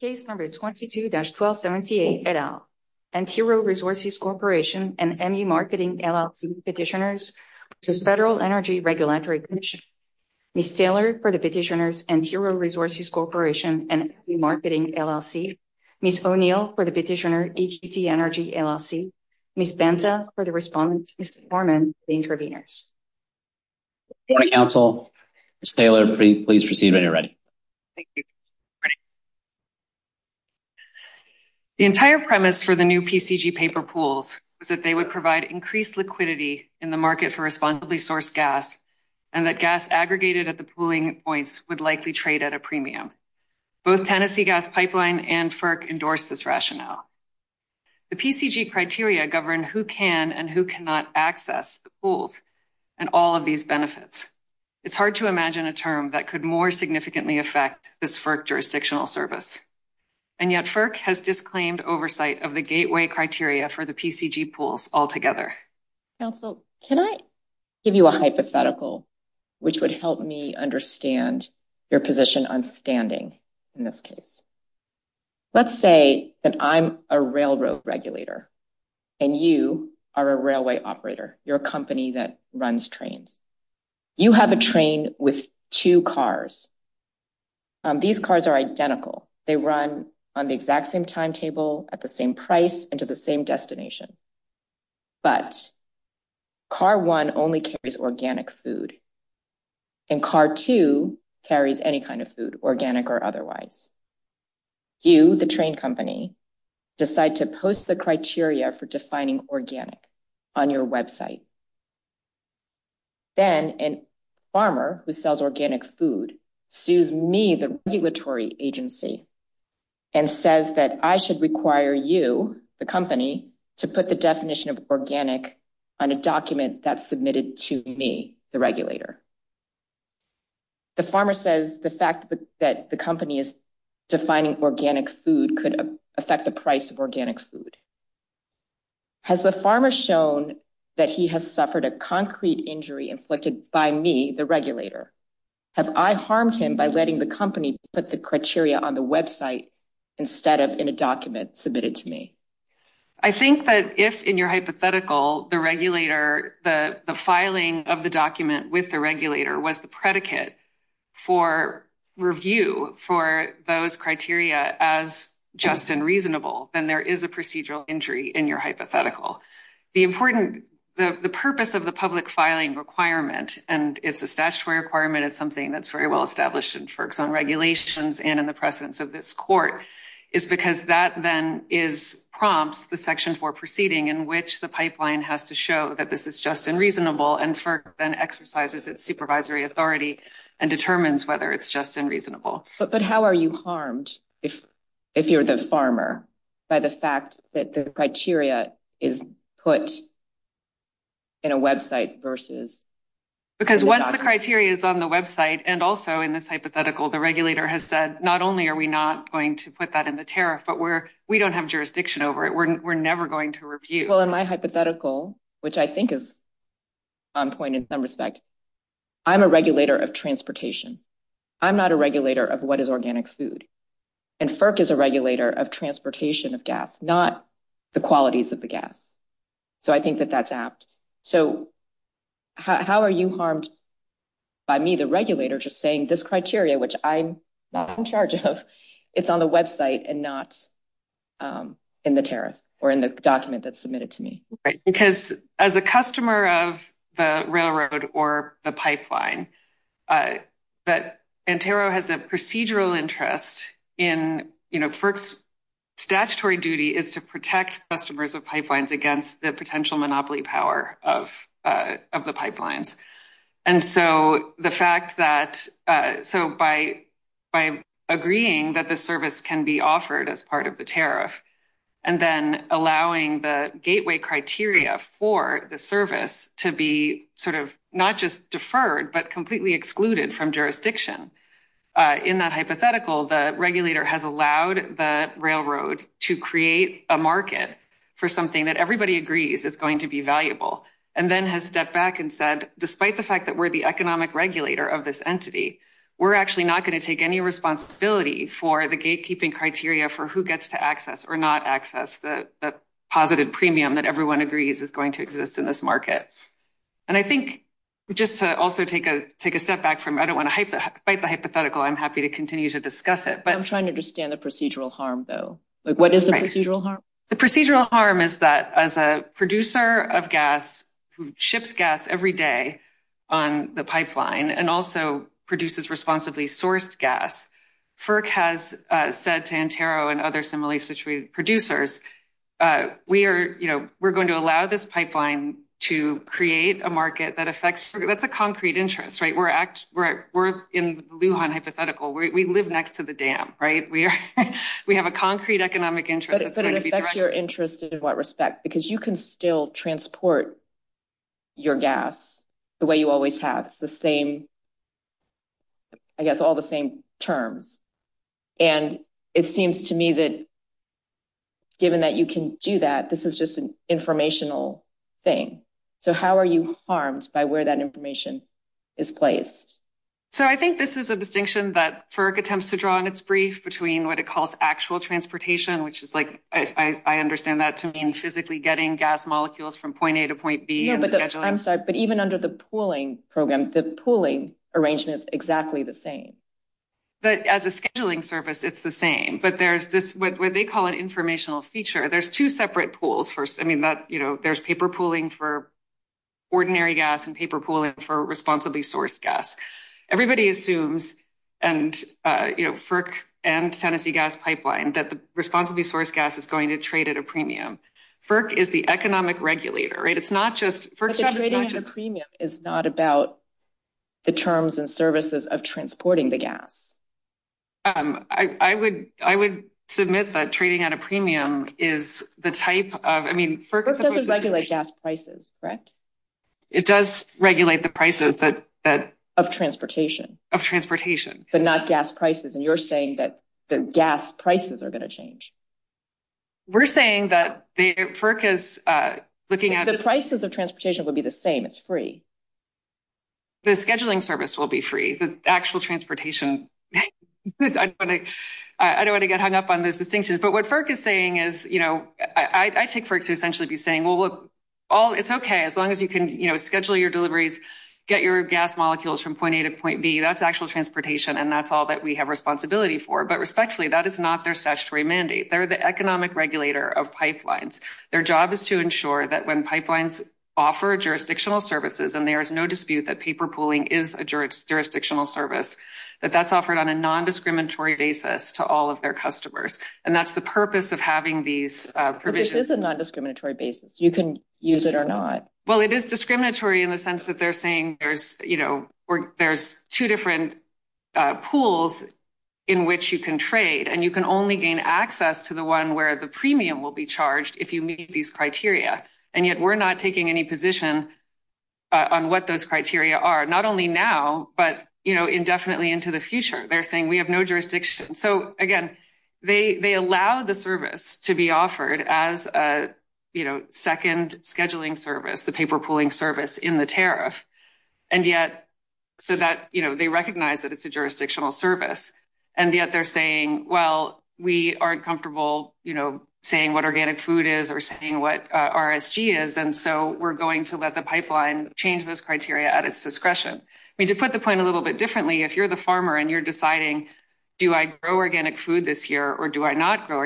Case number 22-1278 et al. Antero Resources Corporation and ME Marketing LLC petitioners to the Federal Energy Regulatory Commission. Ms. Taylor for the petitioners Antero Resources Corporation and ME Marketing LLC. Ms. O'Neill for the petitioner DTC Energy LLC. Ms. Banta for the respondents. Mr. Foreman, the interveners. Council, Ms. Taylor, please proceed when you're ready. The entire premise for the new PCG paper pools was that they would provide increased liquidity in the market for responsibly sourced gas and that gas aggregated at the pooling points would likely trade at a premium. Both Tennessee Gas Pipeline and FERC endorsed this rationale. The PCG criteria govern who can and who cannot access the pools and all of these benefits. It's hard to imagine a term that could more significantly affect this FERC jurisdictional service and yet FERC has disclaimed oversight of the gateway criteria for the PCG pools altogether. Council, can I give you a hypothetical which would help me understand your position on standing in this case? Let's say that I'm a railroad regulator and you are a railway operator. You're a company that runs trains. You have a train with two cars. These cars are identical. They run on the exact same timetable, at the same price, and to the same destination. But car one only carries organic food and car two carries any kind of food, organic or otherwise. You, the train company, decide to post the criteria for defining organic on your website. Then a farmer who sells organic food sues me, the regulatory agency, and says that I should require you, the company, to put the definition of organic on a document that's submitted to me, the regulator. The farmer says the fact that the company is defining organic food could affect the price of organic food. Has the farmer shown that he has suffered a concrete injury inflicted by me, the regulator? Have I harmed him by letting the company put the criteria on the website instead of in a document submitted to me? I think that if, in your hypothetical, the regulator, the filing of the document with the regulator was the predicate for review for those criteria as just and reasonable, then there is a procedural injury in your hypothetical. The purpose of the public filing requirement, and it's a statutory requirement, it's something that's very well established in FERC's own regulations and in the presence of this court, is because that then prompts the section four proceeding in which the pipeline has to show that this is just and reasonable, and FERC then exercises its supervisory authority and determines whether it's just and reasonable. But how are you harmed if you're the farmer by the fact that the criteria is put in a website versus... Because once the criteria is on the website, and also in this hypothetical, the regulator has said, not only are we not going to put that in the tariff, but we don't have jurisdiction over it. We're never going to review. Well, in my hypothetical, which I think is on point in some respect, I'm a regulator of transportation. I'm not a regulator of what is organic food. And FERC is a regulator of transportation of gas, not the qualities of the gas. So I think that that's apt. So how are you harmed by me, the regulator, just saying this criteria, which I'm not in charge of, it's on the website and not in the tariff or in the document that's submitted to me? Because as a customer of the railroad or the pipeline, but NTERO has a procedural interest in... FERC's statutory duty is to protect customers of pipelines against the potential monopoly power of the pipelines. And so the fact that... So by agreeing that the service can be for the service to be sort of not just deferred, but completely excluded from jurisdiction. In that hypothetical, the regulator has allowed the railroad to create a market for something that everybody agrees is going to be valuable. And then has stepped back and said, despite the fact that we're the economic regulator of this entity, we're actually not going to take any responsibility for the gatekeeping criteria for who gets to access or not access the positive premium that everyone agrees is going to exist in this market. And I think just to also take a step back from... I don't want to fight the hypothetical. I'm happy to continue to discuss it. I'm trying to understand the procedural harm though. What is the procedural harm? The procedural harm is that as a producer of gas, who ships gas every day on the pipeline, and also produces responsibly sourced gas, FERC has said to NTERO and other similarly situated producers, we're going to allow this pipeline to create a market that affects... That's a concrete interest, right? We're in the Lujan hypothetical. We live next to the dam, right? We have a concrete economic interest that's going to be... But it affects your interest in what respect? Because you can still transport your gas the way you always have. That's the same... I guess all the same terms. And it seems to me that given that you can do that, this is just an informational thing. So how are you harmed by where that information is placed? So I think this is a distinction that FERC attempts to draw in its brief between what it calls actual transportation, which is like, I understand that to mean physically getting gas molecules from point A to point B... Yeah, I'm sorry, but even under the pooling program, the pooling arrangement is exactly the same. But as a scheduling service, it's the same. But there's this what they call an informational feature. There's two separate pools. I mean, there's paper pooling for ordinary gas and paper pooling for responsibly sourced gas. Everybody assumes, and FERC and Tennessee Gas Pipeline, that the responsibly sourced gas is going to trade at a premium. FERC is the economic regulator, right? It's not just... But the trading at a premium is not about the terms and services of transporting the gas. I would submit that trading at a premium is the type of... I mean, FERC doesn't regulate gas prices, correct? It does regulate the prices, but... Of transportation. Of transportation. But not gas prices are going to change. We're saying that FERC is looking at... The prices of transportation will be the same. It's free. The scheduling service will be free. The actual transportation... I don't want to get hung up on those distinctions. But what FERC is saying is, you know, I think FERC should essentially be saying, well, it's okay as long as you can schedule your deliveries, get your gas molecules from point A to point B. That's actual transportation, and that's all that we have responsibility for. But respectfully, that is not their statutory mandate. They're the economic regulator of pipelines. Their job is to ensure that when pipelines offer jurisdictional services, and there is no dispute that paper pooling is a jurisdictional service, that that's offered on a non-discriminatory basis to all of their customers. And that's the purpose of having these provisions. But this is a non-discriminatory basis. You can use it or not. Well, it is discriminatory in the sense that they're saying there's, there's two different pools in which you can trade, and you can only gain access to the one where the premium will be charged if you meet these criteria. And yet we're not taking any position on what those criteria are, not only now, but indefinitely into the future. They're saying we have no jurisdiction. So again, they allow the service to be offered as a second scheduling service, the paper pooling service in the tariff. And yet, so that they recognize that it's a jurisdictional service. And yet they're saying, well, we aren't comfortable saying what organic food is or saying what RSG is. And so we're going to let the pipeline change those criteria at its discretion. I mean, to put the point a little bit differently, if you're the farmer and you're deciding, do I grow organic food this year or do I not grow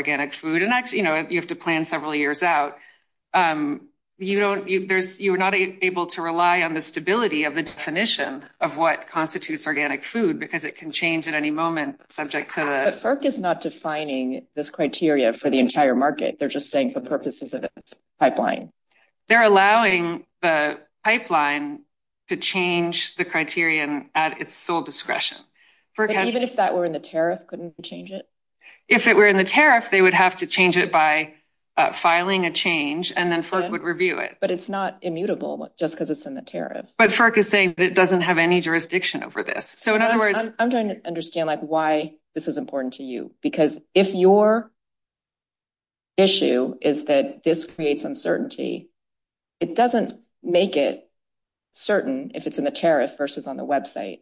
um, you don't, you're not able to rely on the stability of the definition of what constitutes organic food because it can change at any moment subject to the... But FERC is not defining this criteria for the entire market. They're just saying for purposes of the pipeline. They're allowing the pipeline to change the criterion at its sole discretion. But even if that were in the tariff, couldn't you change it? If it were in the tariff, they would have to change it by filing a change and then FERC would review it. But it's not immutable just because it's in the tariff. But FERC is saying it doesn't have any jurisdiction over this. So in other words... I'm trying to understand like why this is important to you, because if your issue is that this creates uncertainty, it doesn't make it certain if it's in the tariff versus on the website.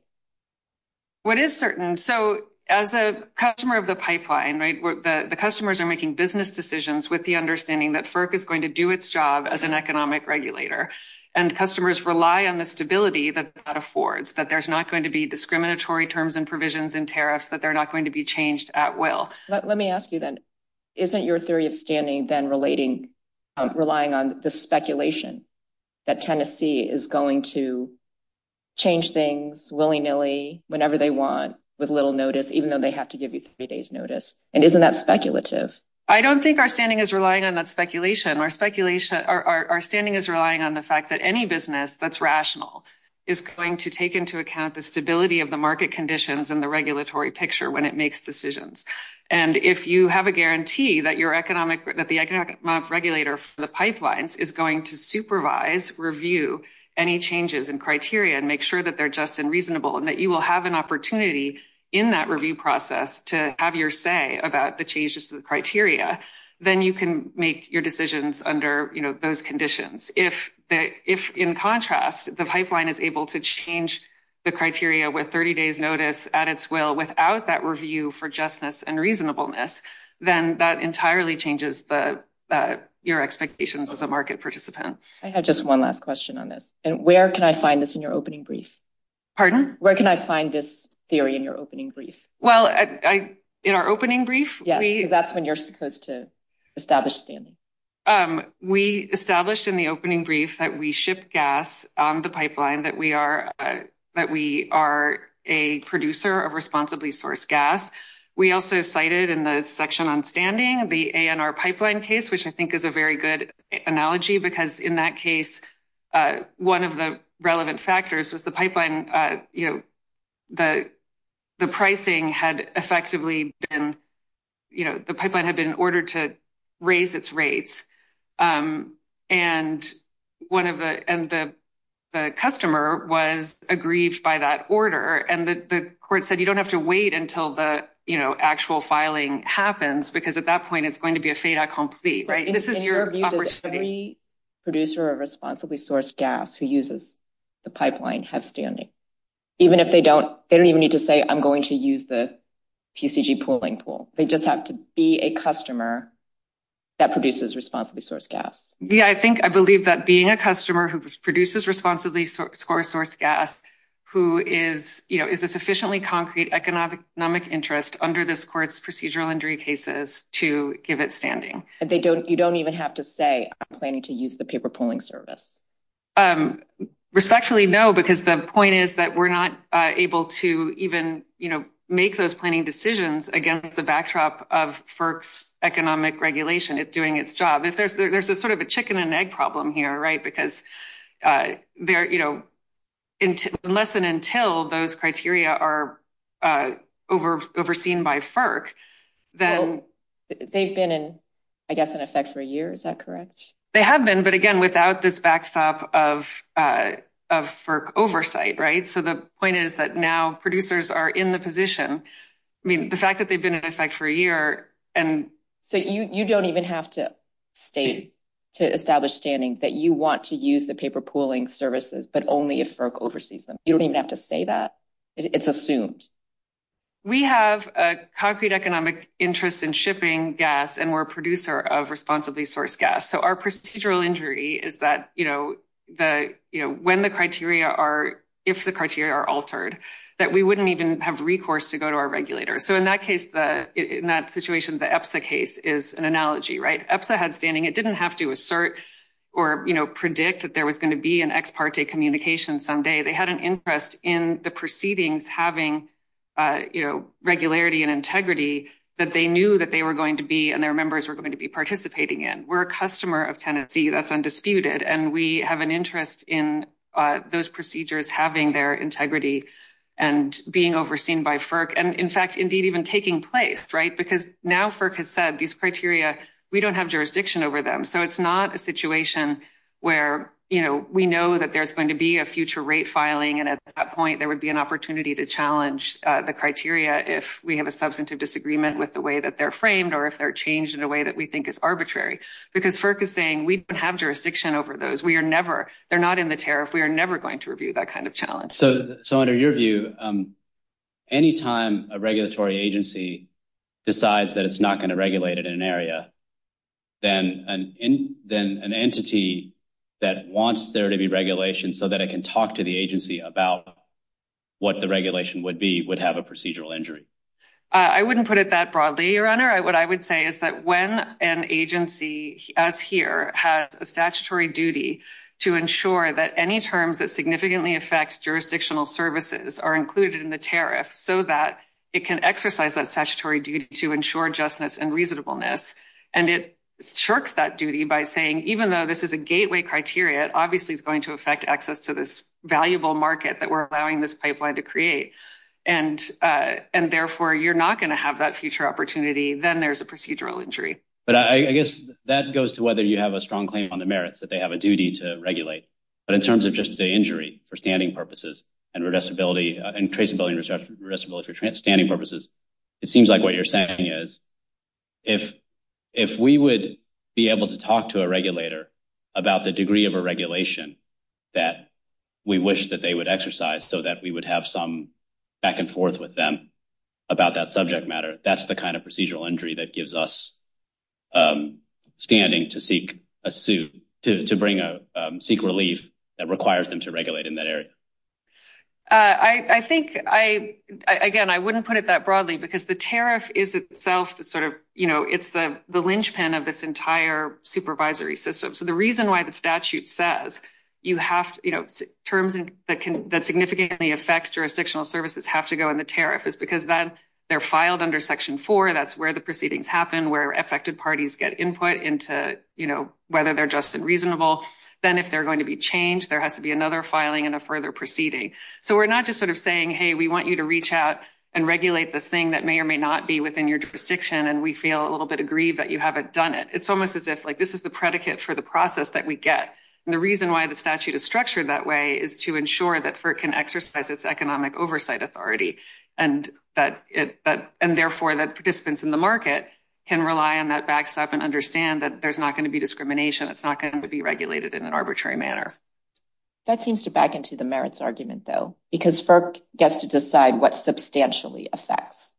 What is certain? So as a customer of the pipeline, right? The customers are making business decisions with the understanding that FERC is going to do its job as an economic regulator and customers rely on the stability that that affords, that there's not going to be discriminatory terms and provisions and tariffs, that they're not going to be changed at will. Let me ask you then, isn't your theory of standing then relating, relying on the speculation that Tennessee is going to change things willy-nilly whenever they want with little notice, even though they have to give you three days notice? And isn't that speculative? I don't think our standing is relying on that speculation. Our standing is relying on the fact that any business that's rational is going to take into account the stability of the market conditions and the regulatory picture when it makes decisions. And if you have a guarantee that the economic regulator for the pipelines is going to supervise, review any changes in criteria and make sure that they're just and reasonable and that you will have an opportunity in that review process to have your say about the changes to the criteria, then you can make your decisions under those conditions. If in contrast, the pipeline is able to change the criteria with 30 days notice at its will without that review for justness and reasonableness, then that entirely changes your expectations as a market participant. I have just one last question on this. And where can I find this in your opening brief? Pardon? Where can I find this theory in your opening brief? Well, in our opening brief? Yes, because that's when you're supposed to establish standing. We established in the opening brief that we ship gas on the pipeline, that we are a producer of section on standing, the ANR pipeline case, which I think is a very good analogy, because in that case, one of the relevant factors was the pipeline, the pricing had effectively been, the pipeline had been ordered to raise its rates. And the customer was aggrieved by that order. And the actual filing happens, because at that point, it's going to be a fata complete, right? And can you review that every producer of responsibly sourced gas who uses the pipeline has standing? Even if they don't, they don't even need to say, I'm going to use the PCG pooling pool. They just have to be a customer that produces responsibly sourced gas. Yeah, I think I believe that being a customer who produces responsibly score sourced gas, who is, you know, is a sufficiently concrete economic interest under this court's procedural injury cases to give it standing. And they don't, you don't even have to say, I'm planning to use the paper pooling service. Respectfully, no, because the point is that we're not able to even, you know, make those planning decisions against the backdrop of FERC's economic regulation, it's doing its job. There's a sort of a chicken and egg problem here, right? Because they're, you know, unless and until those criteria are overseen by FERC, then... They've been, I guess, in effect for a year, is that correct? They have been, but again, without this backstop of FERC oversight, right? So the point is that now producers are in the position, I mean, the fact that they've been in effect for a year, and... You don't even have to state to establish standing that you want to use the paper pooling services, but only if FERC oversees them. You don't even have to say that. It's assumed. We have a concrete economic interest in shipping gas, and we're a producer of responsibly sourced gas. So our procedural injury is that, you know, when the criteria are, if the criteria are altered, that we wouldn't even have recourse to go to our regulator. So in that case, in that situation, the EPSA case is an analogy, right? EPSA had standing. It didn't have to assert or predict that there was going to be an ex parte communication someday. They had an interest in the proceedings having regularity and integrity that they knew that they were going to be, and their members were going to be participating in. We're a customer of Tennessee that's undisputed, and we have an interest in those procedures having their even taking place, right? Because now FERC has said these criteria, we don't have jurisdiction over them. So it's not a situation where, you know, we know that there's going to be a future rate filing, and at that point there would be an opportunity to challenge the criteria if we have a substantive disagreement with the way that they're framed or if they're changed in a way that we think is arbitrary. Because FERC is saying we have jurisdiction over those. We are never, they're not in the tariff. We are never going to review that kind of challenge. So under your view, any time a regulatory agency decides that it's not going to regulate it in an area, then an entity that wants there to be regulation so that it can talk to the agency about what the regulation would be would have a procedural injury. I wouldn't put it that broadly, your honor. What I would say is that when an agency as here has a statutory duty to ensure that any terms that significantly affect jurisdictional services are included in the tariff so that it can exercise that statutory duty to ensure justness and reasonableness, and it shirks that duty by saying even though this is a gateway criteria, it obviously is going to affect access to this valuable market that we're allowing this pipeline to create, and therefore you're not going to have that future opportunity, then there's a strong claim on the merits that they have a duty to regulate. But in terms of just the injury for standing purposes and traceability for standing purposes, it seems like what you're saying is if we would be able to talk to a regulator about the degree of a regulation that we wish that they would exercise so that we would have some back and forth with them about that subject matter, that's the kind of procedural injury that gives us standing to seek relief that requires them to regulate in that area. I think, again, I wouldn't put it that broadly because the tariff is itself sort of, you know, it's the linchpin of this entire supervisory system. So the reason why the statute says you have, you know, terms that significantly affect jurisdictional services have to go in the tariff is because then they're filed under Section 4, that's where the into, you know, whether they're just and reasonable. Then if they're going to be changed, there has to be another filing and a further proceeding. So we're not just sort of saying, hey, we want you to reach out and regulate this thing that may or may not be within your jurisdiction and we feel a little bit aggrieved that you haven't done it. It's almost as if, like, this is the predicate for the process that we get. And the reason why the statute is structured that way is to ensure that FERC can exercise its economic oversight authority and that it, and therefore that participants in the market can rely on that backstop and understand that there's not going to be discrimination. It's not going to be regulated in an arbitrary manner. That seems to back into the merits argument, though, because FERC gets to decide what substantially affects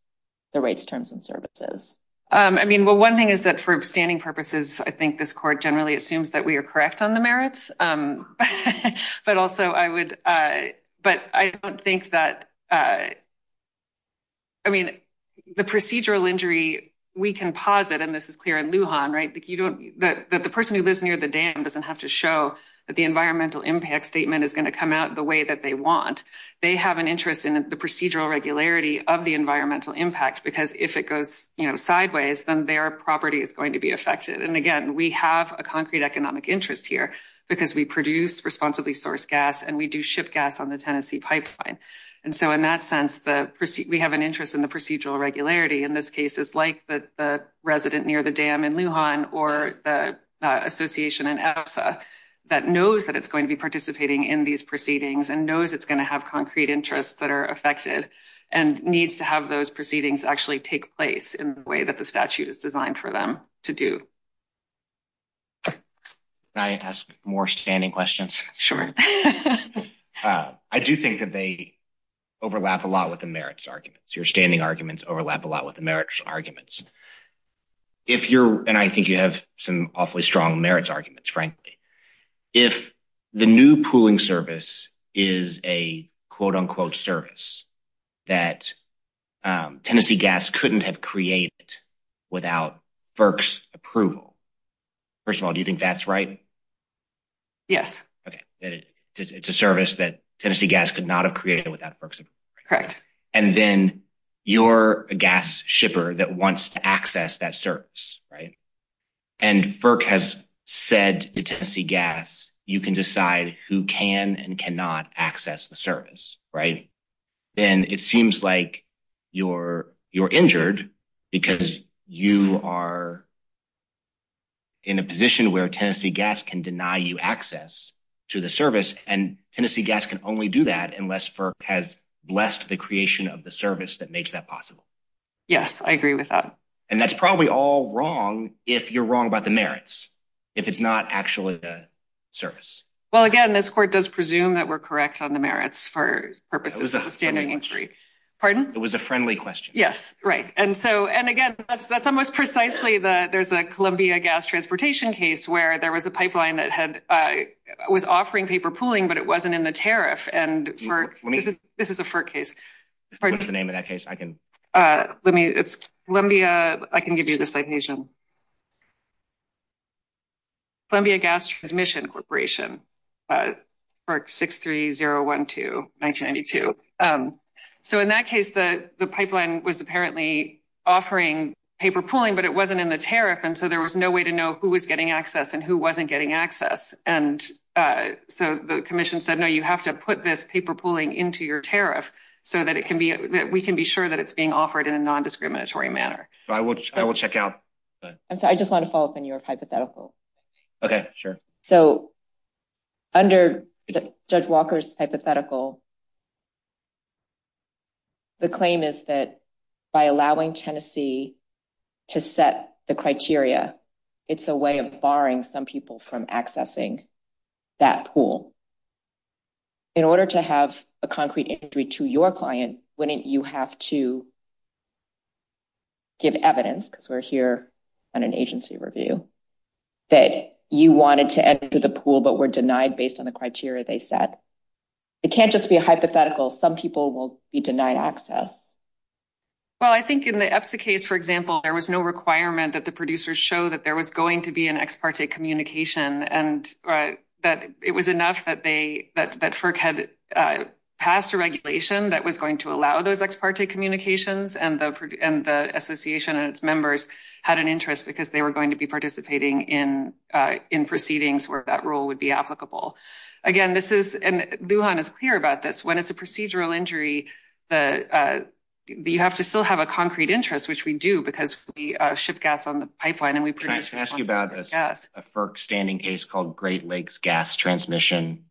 the rates, terms, and services. I mean, well, one thing is that for standing purposes, I think this court generally assumes that we are correct on the merits. Um, but also I would, uh, but I don't think that, uh, I mean, the procedural injury, we can posit, and this is clear in Lujan, right? But you don't, but the person who lives near the dam doesn't have to show that the environmental impact statement is going to come out the way that they want. They have an interest in the procedural regularity of the environmental impact, because if it goes sideways, then their property is going to be affected. And again, we have a concrete economic interest here because we produce responsibly sourced gas and we do ship gas on the Tennessee pipeline. And so in that sense, the proceed, we have an interest in the procedural regularity in this case is like the resident near the dam in Lujan or the association that knows that it's going to be participating in these proceedings and knows it's going to have concrete interests that are affected and needs to have those proceedings actually take place in the way that the statute is designed for them to do. Can I ask more standing questions? Sure. I do think that they overlap a lot with the merits arguments. Your standing arguments overlap a lot with the merits arguments. If you're, and I think you have some awfully strong merits arguments, frankly, if the new pooling service is a quote unquote service that Tennessee Gas couldn't have created without FERC's approval, first of all, do you think that's right? Yes. Okay. It's a service that Tennessee Gas could not have created without FERC's approval. Correct. And then you're a gas shipper that wants to access that service, right? And FERC has said to Tennessee Gas, you can decide who can and cannot access the service, right? And it seems like you're injured because you are in a position where Tennessee Gas can deny you access to the service. And Tennessee Gas can only do that unless FERC has blessed the creation of the service that makes that possible. Yes, I agree with that. And that's probably all wrong if you're wrong about the merits, if it's not actually the service. Well, again, this court does presume that we're correct on merits for purposes of standing entry. Pardon? It was a friendly question. Yes. Right. And so, and again, that's almost precisely the, there's a Columbia gas transportation case where there was a pipeline that had, was offering paper pooling, but it wasn't in the tariff. And this is a FERC case. What's the name of that case? I can, let me, it's Columbia. I can give you the date. It was 2002, 1992. So in that case, the pipeline was apparently offering paper pooling, but it wasn't in the tariff. And so there was no way to know who was getting access and who wasn't getting access. And so the commission said, no, you have to put this paper pooling into your tariff so that it can be, that we can be sure that it's being offered in a non-discriminatory manner. So I will, I will check out. I just want to follow up on your hypothetical. Okay, sure. So under Judge Walker's hypothetical, the claim is that by allowing Tennessee to set the criteria, it's a way of barring some people from accessing that pool. In order to have a concrete entry to your client, wouldn't you have to give evidence, because we're here on an agency review, that you wanted to enter the pool, but were denied based on the criteria they set. It can't just be a hypothetical. Some people will be denied access. Well, I think in the EPSA case, for example, there was no requirement that the producers show that there was going to be an ex parte communication. And that it was enough that they, that FERC had passed a regulation that was going to allow those ex parte communications. And the association and its interests, because they were going to be participating in proceedings where that rule would be applicable. Again, this is, and Lujan is clear about this, when it's a procedural injury, the, you have to still have a concrete interest, which we do, because we ship gas on the pipeline. And we produce gas. Can I ask you about this? A FERC standing case called Great Lakes Gas Transmission.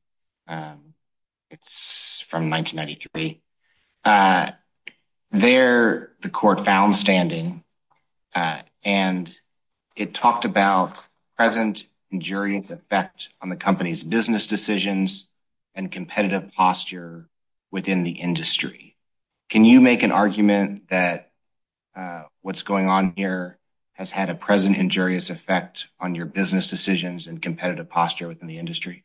It's from 1993. There, the court found standing, and it talked about present injurious effect on the company's business decisions and competitive posture within the industry. Can you make an argument that what's going on here has had a present injurious effect on your business decisions and competitive posture within the industry?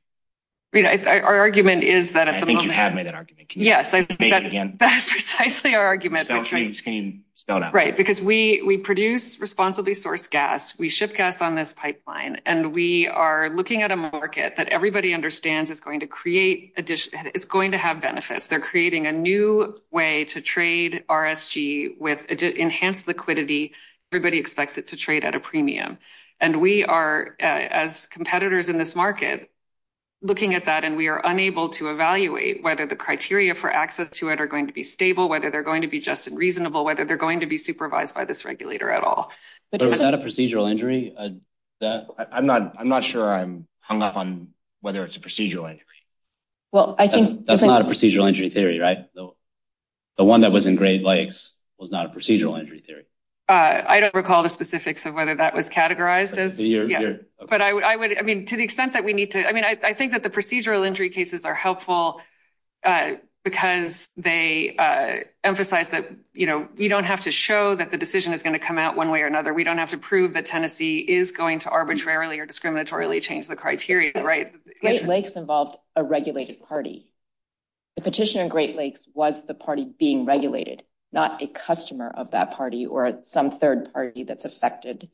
Our argument is that... I think you have made that argument. Yes, I think that's precisely our argument. Can you spell it out? Right, because we produce responsibly sourced gas. We ship gas on this pipeline and we are looking at a market that everybody understands is going to create additional, it's going to have benefits. They're creating a new way to trade RRG with enhanced liquidity. Everybody expects it to trade at a premium. And we are, as competitors in this market, looking at that, and we are unable to evaluate whether the criteria for access to it are going to be stable, whether they're going to be just and reasonable, whether they're going to be supervised by this regulator at all. So is that a procedural injury? I'm not sure I'm hung up on whether it's a procedural injury. That's not a procedural injury theory, right? The one that was in Great Lakes was not a procedural injury theory. I don't recall the specifics of whether that was categorized as... But I would, I mean, to the extent that we need to... I mean, I think that the procedural injury cases are helpful because they emphasize that we don't have to show that the decision is going to come out one way or another. We don't have to prove that Tennessee is going to arbitrarily or discriminatorily change the criteria, right? Great Lakes involved a regulated party. The petition in Great Lakes was the party being regulated, not a customer of that party or some third party that's affected.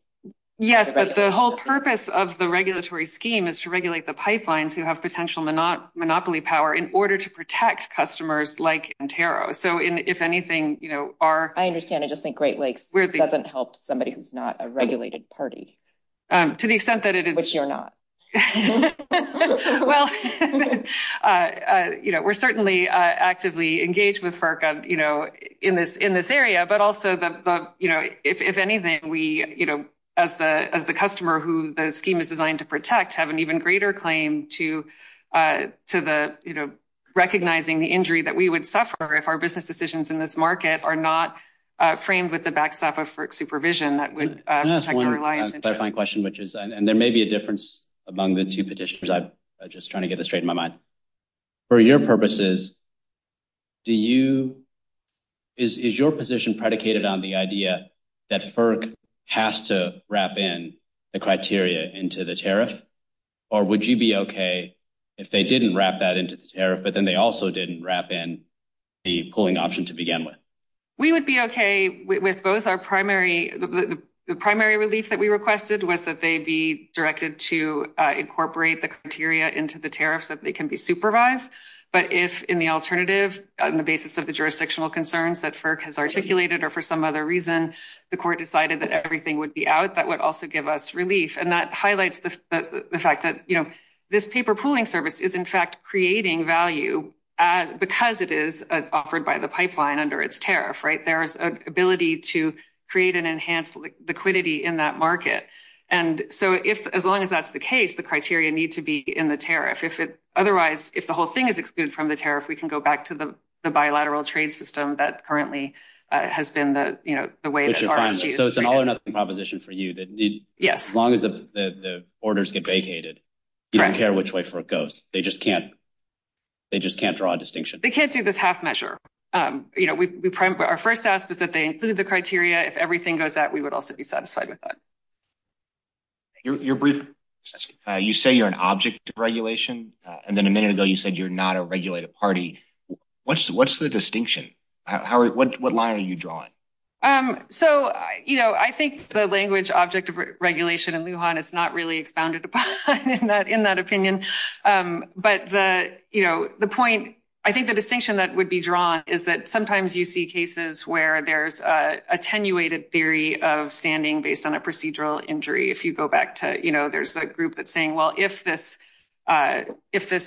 Yes, but the whole purpose of the regulatory scheme is to regulate the pipelines who have potential monopoly power in order to protect customers like Intero. So if anything, you know, are... I understand. I just think Great Lakes doesn't help somebody who's not a regulated party. To the extent that it is... Which you're not. Well, you know, we're certainly actively engaged with FERC, you know, in this area, but also, you know, if anything, we, you know, as the customer who the scheme is designed to protect, have an even greater claim to the, you know, recognizing the injury that we would suffer if our business decisions in this market are not framed with the backstop of FERC supervision that would protect our reliance... That's one clarifying question, which is... And there may be a difference among the two petitions. I'm just trying to get this straight in my mind. For your purposes, do you... Is your position predicated on the idea that FERC has to wrap in the criteria into the tariff? Or would you be okay if they didn't wrap that into the tariff, but then they also didn't wrap in the pooling option to begin with? We would be okay with both our primary... The primary relief that we requested was that they be directed to incorporate the criteria into the tariff so that they can be supervised. But if, in the alternative, on the basis of the jurisdictional concerns that FERC has articulated, or for some other reason, the court decided that everything would be out, that would also give us relief. And that highlights the fact that, you know, this paper pooling service is, in fact, creating value because it is offered by the pipeline under its tariff, right? There's an ability to create an enhanced liquidity in that market. And so, as long as that's the case, the criteria need to be in the tariff. Otherwise, if the whole thing is excluded from the tariff, we can go back to the bilateral trade system that currently has been the way that... So it's an all or nothing proposition for you that as long as the orders get vacated, you don't care which way it goes. They just can't draw a distinction. They can't do this half measure. Our first ask is that they include the criteria. If everything goes out, we would also be satisfied with that. You say you're an object of regulation, and then a minute ago you said you're not a regulated party. What's the distinction? What line are you drawing? So, you know, I think the language object of regulation in Lujan is not really founded upon in that opinion. But, you know, the point... I think the distinction that would be drawn is that sometimes you see cases where there's attenuated theory of standing based on a procedural injury. If you go back to, you know, there's a group that's saying, well, if this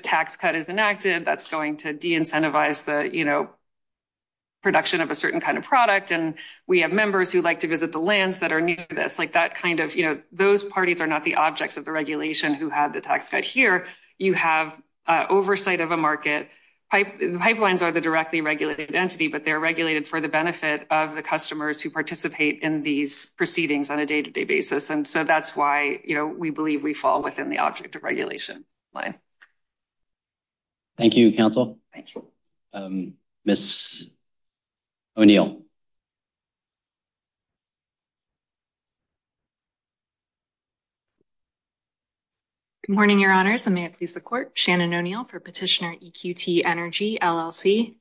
tax cut is enacted, that's going to de-incentivize the, you know, production of a certain kind of product. And we have members who would like to visit the lands that are new to this. Like that kind of, you know, those parties are not the objects of the regulation who have the tax cut here. You have oversight of a market. Pipelines are the directly regulated entity, but they're regulated for the benefit of the customers who participate in these proceedings on a day-to-day basis. And so that's why, you know, we believe we fall within the object of regulation line. Thank you, counsel. Thank you. Ms. O'Neill. Good morning, your honors. I'm the executive court, Shannon O'Neill for petitioner EQT Energy, LLC.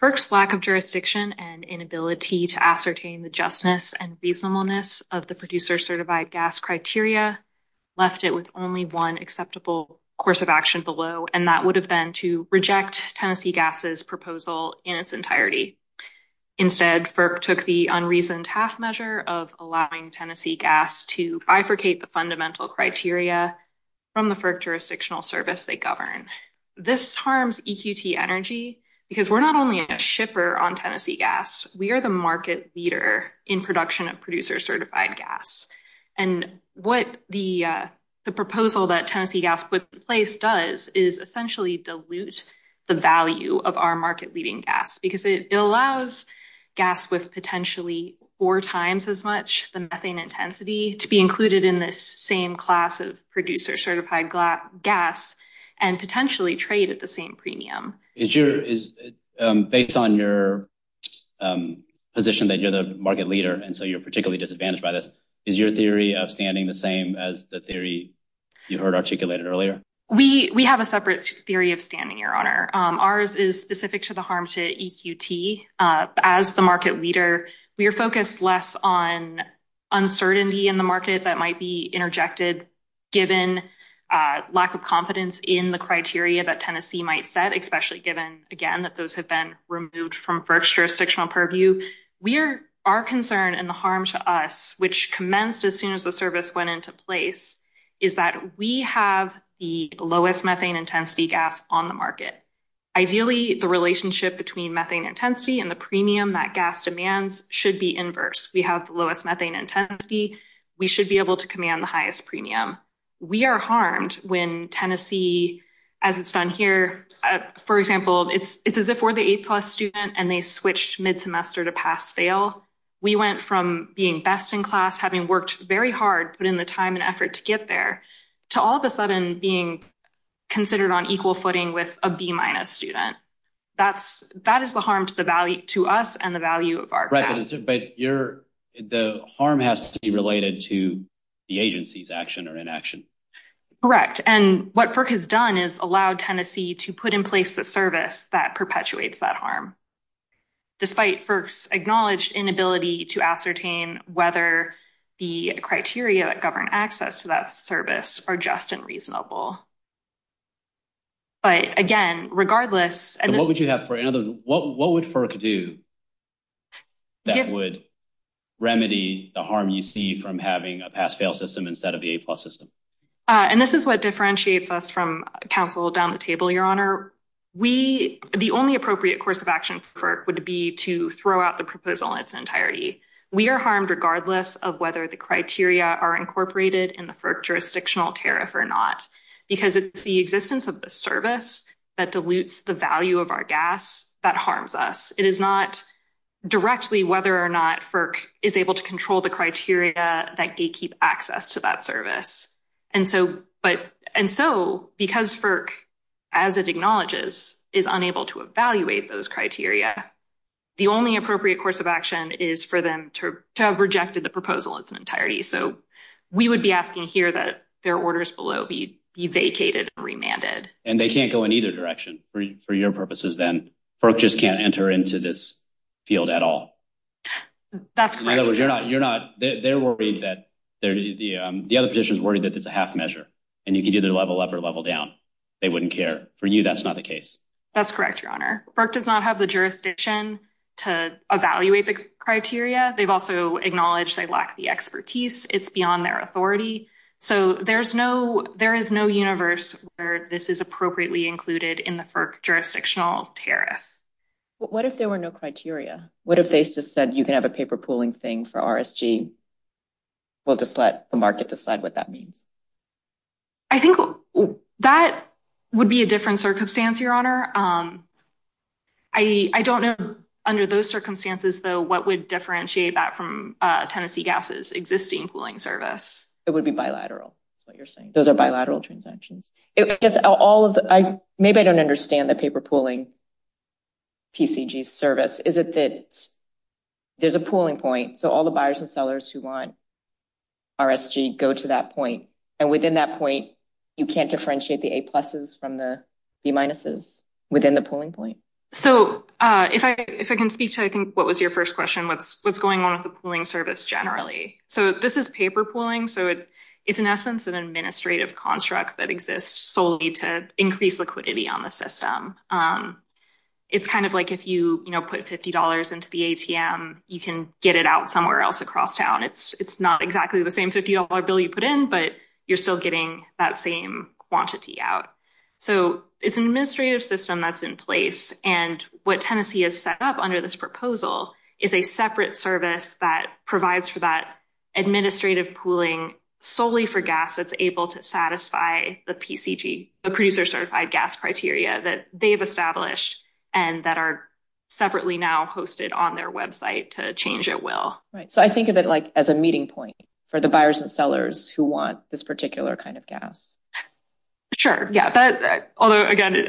FERC's lack of jurisdiction and inability to ascertain the justness and reasonableness of the producer certified gas criteria left it with only one acceptable course of action below, and that would have been to reject Tennessee Gas's proposal in its entirety. Instead, FERC took the unreasoned half measure of allowing Tennessee Gas to bifurcate the fundamental criteria from the FERC jurisdictional service they govern. This harms EQT Energy because we're not only a shipper on Tennessee Gas, we are the market leader in production of producer certified gas. And what the proposal that Tennessee Gas put in place does is essentially dilute the value of our market-leading gas because it allows gas with potentially four times as much the methane intensity to be included in this same class of producer certified gas and potentially trade at the same premium. Based on your position that you're the market leader, and so you're particularly disadvantaged by this, is your theory of standing the same as the theory you heard articulated earlier? We have a separate theory of standing, your honor. Ours is specific to the harm to EQT. As the market leader, we are focused less on uncertainty in the market that might be set, especially given, again, that those have been removed from FERC's jurisdictional purview. Our concern and the harm to us, which commenced as soon as the service went into place, is that we have the lowest methane intensity gas on the market. Ideally, the relationship between methane intensity and the premium that gas demands should be inverse. We have the lowest methane intensity. We should be able to command the highest premium. We are harmed when Tennessee, as it's done here, for example, it's as if we're the A-plus student and they switch mid-semester to pass-fail. We went from being best in class, having worked very hard, put in the time and effort to get there, to all of a sudden being considered on equal footing with a B-minus student. That is the harm to us and the value of our class. But the harm has to be related to the agency's action or inaction. Correct. What FERC has done is allowed Tennessee to put in place the service that perpetuates that harm, despite FERC's acknowledged inability to ascertain whether the criteria that govern access to that service are just and reasonable. But again, regardless... What would FERC do that would remedy the harm you see from having a pass-fail system instead of the A-plus system? This is what differentiates us from council down the table, Your Honor. The only appropriate course of action for FERC would be to throw out the proposal in its entirety. We are harmed regardless of whether the criteria are incorporated in the FERC jurisdictional tariff or not, because it's the existence of the service that dilutes the value of our gas that harms us. It is not directly whether or not FERC is able to control the criteria that gatekeep access to that service. And so because FERC, as it acknowledges, is unable to evaluate those criteria, the only appropriate course of action is for them to have rejected the proposal in its entirety. So we would be asking here that their orders below be vacated and remanded. And they can't go in either direction for your purposes then. FERC just can't enter into this The other position is worried that it's a half measure and you can either level up or level down. They wouldn't care. For you, that's not the case. That's correct, Your Honor. FERC does not have the jurisdiction to evaluate the criteria. They've also acknowledged they lack the expertise. It's beyond their authority. So there is no universe where this is appropriately included in the FERC jurisdictional tariff. What if there were no criteria? What if they just said you can have a paper pooling thing for RSG? Will the market decide what that means? I think that would be a different circumstance, Your Honor. I don't know under those circumstances though what would differentiate that from Tennessee Gas's existing pooling service. It would be bilateral, what you're saying. Those are bilateral transactions. Maybe I don't understand the paper pooling PCG service. Is it that there's a pooling point so all the buyers and sellers who want RSG go to that point and within that point you can't differentiate the A pluses from the B minuses within the pooling point? So if I can speak to I think what was your first question, what's going on with the pooling service generally? So this is paper pooling. So it's an administrative construct that exists solely to increase liquidity on the system. It's kind of like if you put $50 into the ATM you can get it out somewhere else across town. It's not exactly the same $50 bill you put in but you're still getting that same quantity out. So it's an administrative system that's in place and what Tennessee has set up under this proposal is a gas that's able to satisfy the PCG, the producer certified gas criteria that they've established and that are separately now hosted on their website to change at will. So I think of it like as a meeting point for the buyers and sellers who want this particular kind of gas. Sure, yeah. Although again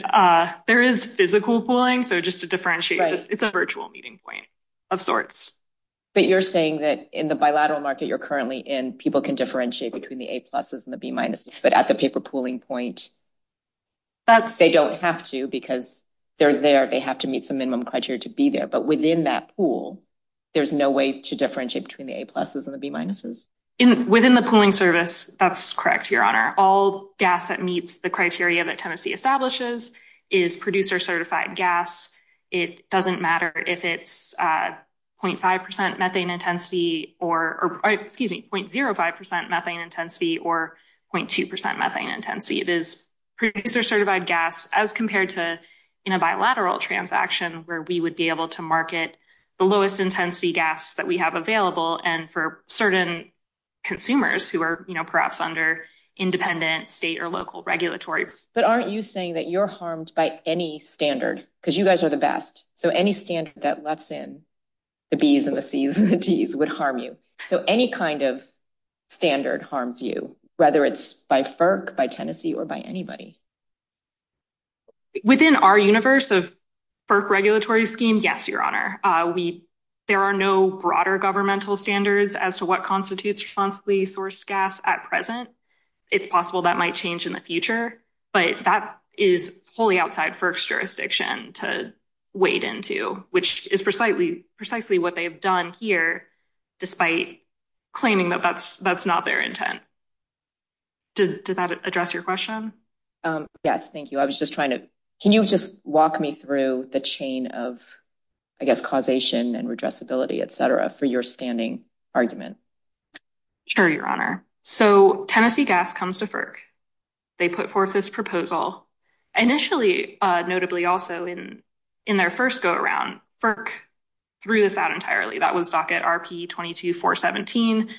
there is physical pooling so just to differentiate it's a virtual meeting point of sorts. But you're saying that in the bilateral market you're currently in people can differentiate between the A-pluses and the B-minuses but at the paper pooling point they don't have to because they're there, they have to meet some minimum criteria to be there. But within that pool there's no way to differentiate between the A-pluses and the B-minuses? Within the pooling service that's correct, Your Honor. All gas that meets the criteria that Tennessee establishes is producer certified gas. It doesn't matter if it's 0.5% methane intensity or excuse me 0.05% methane intensity or 0.2% methane intensity. It is producer certified gas as compared to in a bilateral transaction where we would be able to market the lowest intensity gas that we have available and for certain consumers who are perhaps under independent state or local regulatory. But aren't you saying that you're harmed by any standard because you harm you? So any kind of standard harms you whether it's by FERC by Tennessee or by anybody? Within our universe of FERC regulatory scheme yes, Your Honor. There are no broader governmental standards as to what constitutes responsibly sourced gas at present. It's possible that might change in the future but that is wholly outside FERC's jurisdiction to wade into which is precisely what they've done here despite claiming that that's not their intent. Does that address your question? Yes, thank you. I was just trying to, can you just walk me through the chain of I guess causation and redressability etc for your standing argument? Sure, Your Honor. So Tennessee Gas comes to FERC. They put forth this proposal initially notably also in their first go-around. FERC threw this out entirely. That was docket RP-22-417.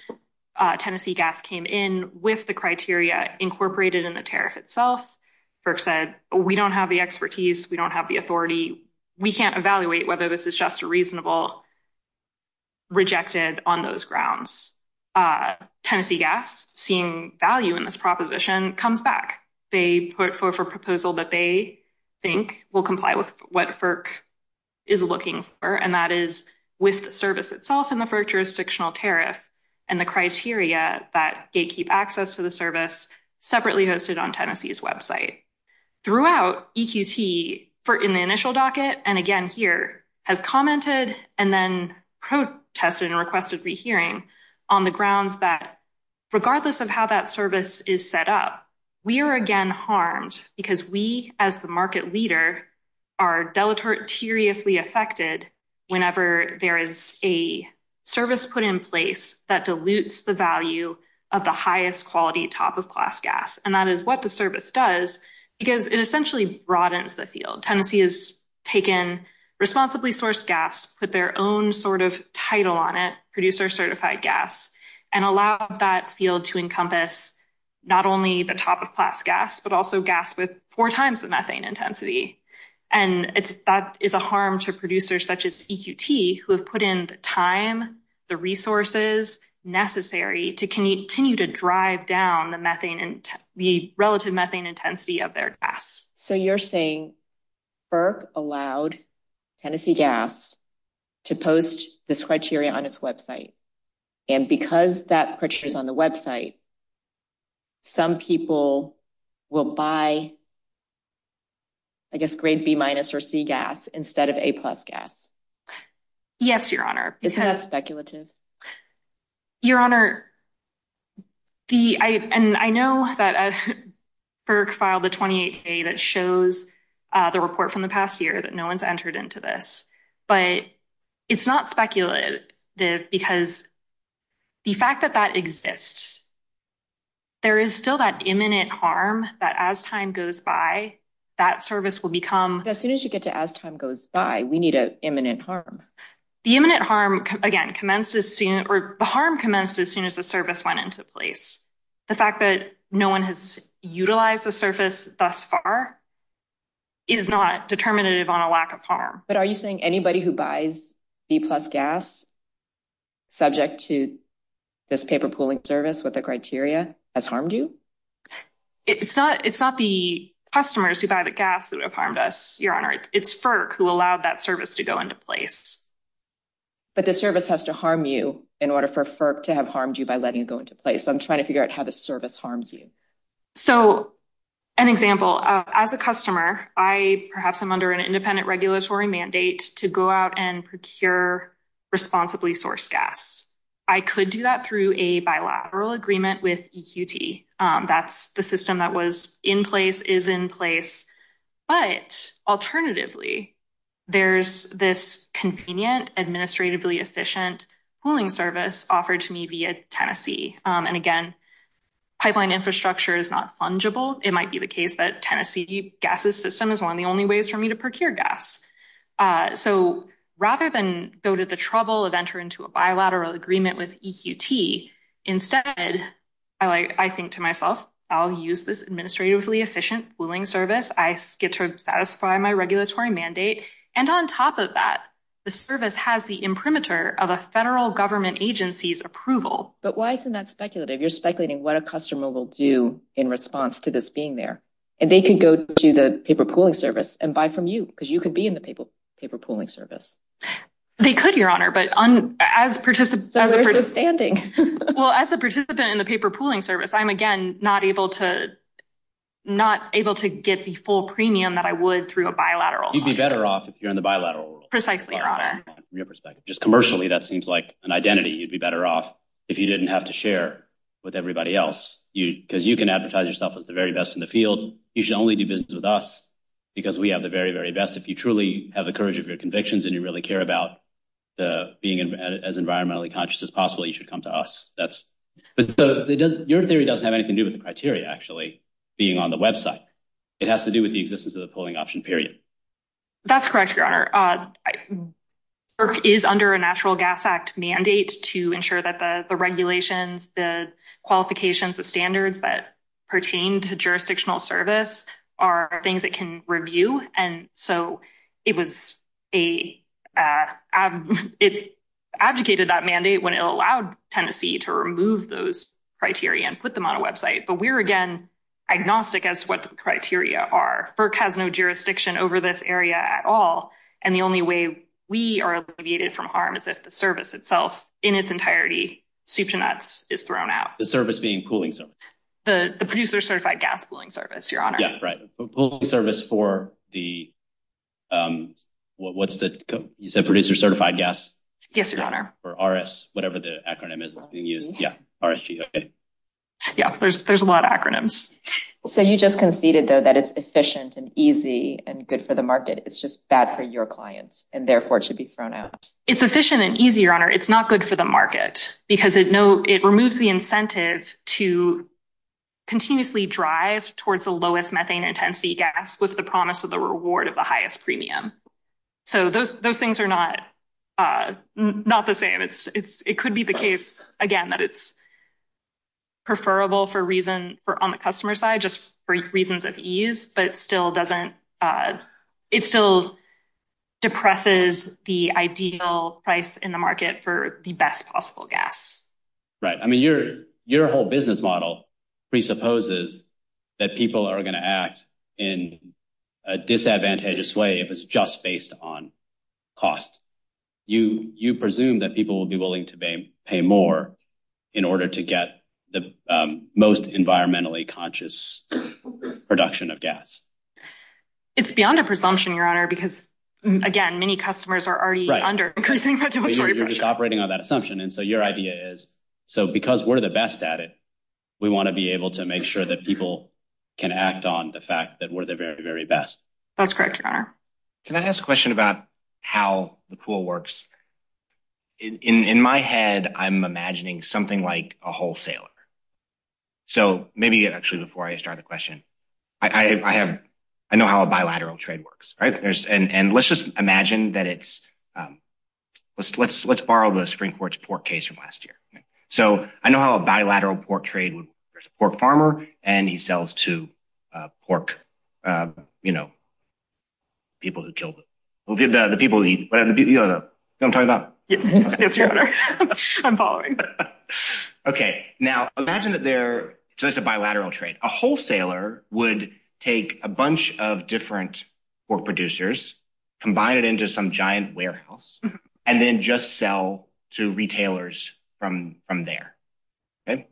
Tennessee Gas came in with the criteria incorporated in the tariff itself. FERC said we don't have the expertise, we don't have the authority, we can't evaluate whether this is just a reasonable rejected on those grounds. Tennessee Gas seeing value in this proposition comes back. They put forth a proposal that they think will comply with what FERC is looking for and that is with the service itself and the FERC jurisdictional tariff and the criteria that they keep access to the service separately hosted on Tennessee's website. Throughout EQT in the initial docket and again here has commented and then protested and requested rehearing on the grounds that regardless of how that service is set up, we are again harmed because we as the market leader are deleteriously affected whenever there is a service put in place that dilutes the value of the highest quality top-of-class gas and that is what the service does because it essentially broadens the field. Tennessee has taken responsibly sourced gas, put their own sort of title on it, producer certified gas and allowed that field to encompass not only the top-of-class gas but also gas with four times the methane intensity and that is a harm to producers such as EQT who have put in the time, the resources necessary to continue to drive down the methane and the relative methane intensity of their gas. So you're saying FERC allowed Tennessee Gas to post this criteria on its website? And because that picture is on the website, some people will buy I guess grade B minus or C gas instead of A plus gas? Yes your honor. Isn't that speculative? Your honor, and I know that FERC filed a 28k that shows the report from the past year that no one's entered into this but it's not speculative because the fact that that exists, there is still that imminent harm that as time goes by that service will become... As soon as you get to as time goes by we need an imminent harm. The imminent harm again commenced as soon or the harm commenced as soon as the service went into place. The fact that no one has utilized the far is not determinative on a lack of harm. But are you saying anybody who buys B plus gas subject to this paper pooling service with the criteria has harmed you? It's not the customers who buy the gas that have harmed us, your honor. It's FERC who allowed that service to go into place. But the service has to harm you in order for FERC to have harmed you by letting go into place. So I'm trying to figure out how the service harms you. So an example, as a customer I perhaps am under an independent regulatory mandate to go out and procure responsibly sourced gas. I could do that through a bilateral agreement with EQT. That's the system that was in place is in place. But alternatively there's this convenient administratively efficient pooling service offered to me via Tennessee. And again, pipeline infrastructure is not fungible. It might be the case that Tennessee's gas system is one of the only ways for me to procure gas. So rather than go to the trouble of entering into a bilateral agreement with EQT, instead I think to myself I'll use this administratively efficient pooling service. I get to satisfy my regulatory mandate. And on top of that the service has the imprimatur of a federal government agency's approval. But why isn't that speculative? You're speculating what a customer will do in response to this being there. And they could go to the paper pooling service and buy from you because you could be in the paper pooling service. They could, Your Honor. But as a participant in the paper pooling service, I'm again not able to get the full premium that I would through a bilateral. You'd be better off if that seems like an identity. You'd be better off if you didn't have to share with everybody else. Because you can advertise yourself as the very best in the field. You should only do business with us because we have the very, very best. If you truly have the courage of your convictions and you really care about being as environmentally conscious as possible, you should come to us. Your theory doesn't have anything to do with the criteria, actually, being on the website. It has to do with the existence of the pooling option, period. That's correct, Your Honor. BERC is under a Natural Gas Act mandate to ensure that the regulations, the qualifications, the standards that pertain to jurisdictional service are things it can review. And so it was a... It advocated that mandate when it allowed Tennessee to remove those criteria and put them on a website. But we're again agnostic as to what the criteria are. BERC has no jurisdiction over this area at all. And the only way we are alleviated from harm is if the service itself, in its entirety, is thrown out. The service being pooling service? The producer certified gas pooling service, Your Honor. Yes, right. Pooling service for the... What's the... You said producer certified gas? Yes, Your Honor. Or RS, whatever the acronym is being used. Yeah, RSG, okay. Yeah, there's a lot of acronyms. So you just conceded that it's efficient and easy and good for the market. It's just bad for your clients and therefore should be thrown out. It's efficient and easy, Your Honor. It's not good for the market because it removes the incentive to continuously drive towards the lowest methane intensity gas with the promise of the reward of the highest premium. So those things are not the same. It could be the case, again, that it's preferable on the customer side just for reasons of ease, but it still depresses the ideal price in the market for the best possible gas. Right. I mean, your whole business model presupposes that people are going to act in a disadvantageous way if it's just based on cost. You presume that people will be willing to pay more in order to get the most environmentally conscious production of gas. It's beyond a presumption, Your Honor, because, again, many customers are already under- Right, you're just operating on that assumption. And so your idea is, so because we're the best at it, we want to be able to make sure that people can act on the fact that we're the very, very best. That's correct, Your Honor. Can I ask a question about how the pool works? In my head, I'm imagining something like a wholesaler. So maybe actually before I start the question, I know how a bilateral trade works, right? And let's just imagine that it's, let's borrow the Supreme Court's pork case from last year. So I know how a bilateral pork trade, there's a pork farmer and he sells to pork, you know, people who kill them. The people who eat, you know what I'm talking about. I'm following. Okay. Now imagine that they're, so it's a bilateral trade. A wholesaler would take a bunch of different pork producers, combine it into some giant warehouse, and then just sell to retailers from there. Okay.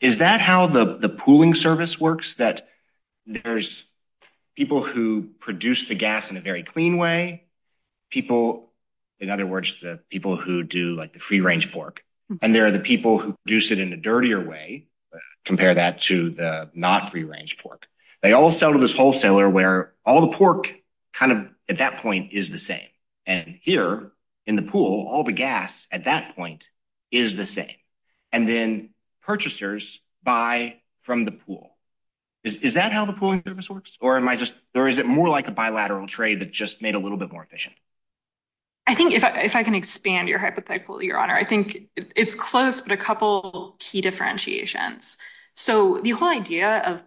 Is that how the pooling service works? That there's people who produce the gas in a very clean way, people, in other words, the people who do like the free range pork, and there are the people who produce it in a dirtier way, compare that to the not free range pork. They all sell to this wholesaler where all the pork kind of at that point is the same. And here in the pool, all the gas at that point is the same. And then purchasers buy from the pool. Is that how the pooling service works? Or am I just, or is it more like a bilateral trade that just made a little bit more efficient? I think if I can expand your hypothetical, your honor, I think it's close, but a couple key differentiations. So the whole idea of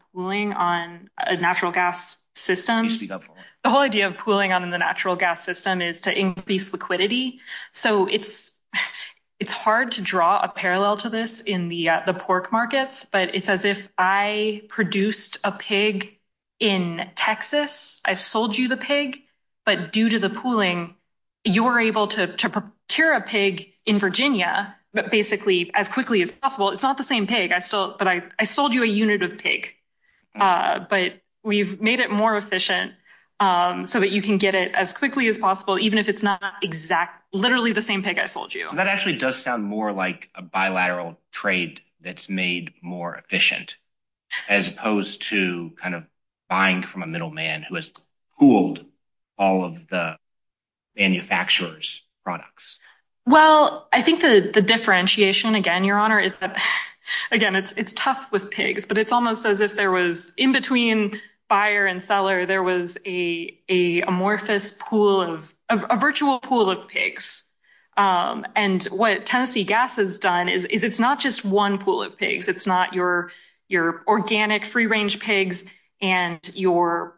increased liquidity. So it's hard to draw a parallel to this in the pork markets, but it's as if I produced a pig in Texas, I sold you the pig, but due to the pooling, you're able to procure a pig in Virginia, but basically as quickly as possible. It's not the same pig, but I sold you a unit of pig, but we've made it more efficient so that you can get it as quickly as possible. Even if it's not exact, literally the same pig I sold you. That actually does sound more like a bilateral trade that's made more efficient as opposed to kind of buying from a middleman who has pooled all of the manufacturers products. Well, I think the differentiation again, your honor, is that again, it's tough with pigs, but it's almost as if there was in between buyer and seller, there was a amorphous pool of, a virtual pool of pigs. And what Tennessee Gas has done is it's not just one pool of pigs. It's not your organic free range pigs and your